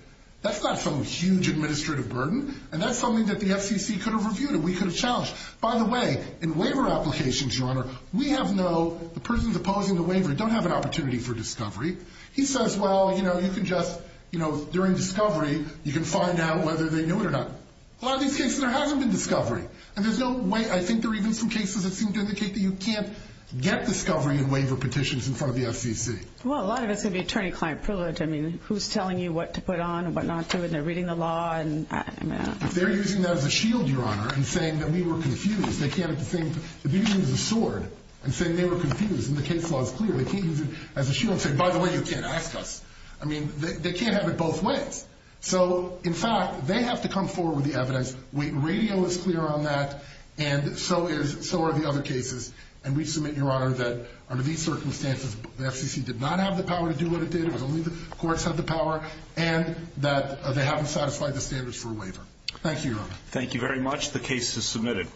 That's got some huge administrative burden, and that's something that the FCC could have reviewed and we could have challenged. By the way, in waiver applications, Your Honor, we have no, the persons opposing the waiver don't have an opportunity for discovery. He says, well, you know, you can just, you know, during discovery, you can find out whether they knew it or not. A lot of these cases, there hasn't been discovery, and there's no way, I think there are even some cases that seem to indicate that you can't get discovery in waiver petitions in front of the FCC. Well, a lot of it could be attorney-client privilege. I mean, who's telling you what to put on and what not to when they're reading the law? They're using that as a shield, Your Honor, in saying that we were confused. They can't have the same, they're using it as a sword. I'm saying they were confused and the case law is clear. They can't use it as a shield and say, by the way, you can't access. I mean, they can't have it both ways. So, in fact, they have to come forward with the evidence. Radio is clear on that, and so are the other cases. And we submit, Your Honor, that under these circumstances, the FCC did not have the power to do what it did, only the courts had the power, and that they haven't satisfied the standards for a waiver. Thank you, Your Honor. Thank you very much. The case is submitted.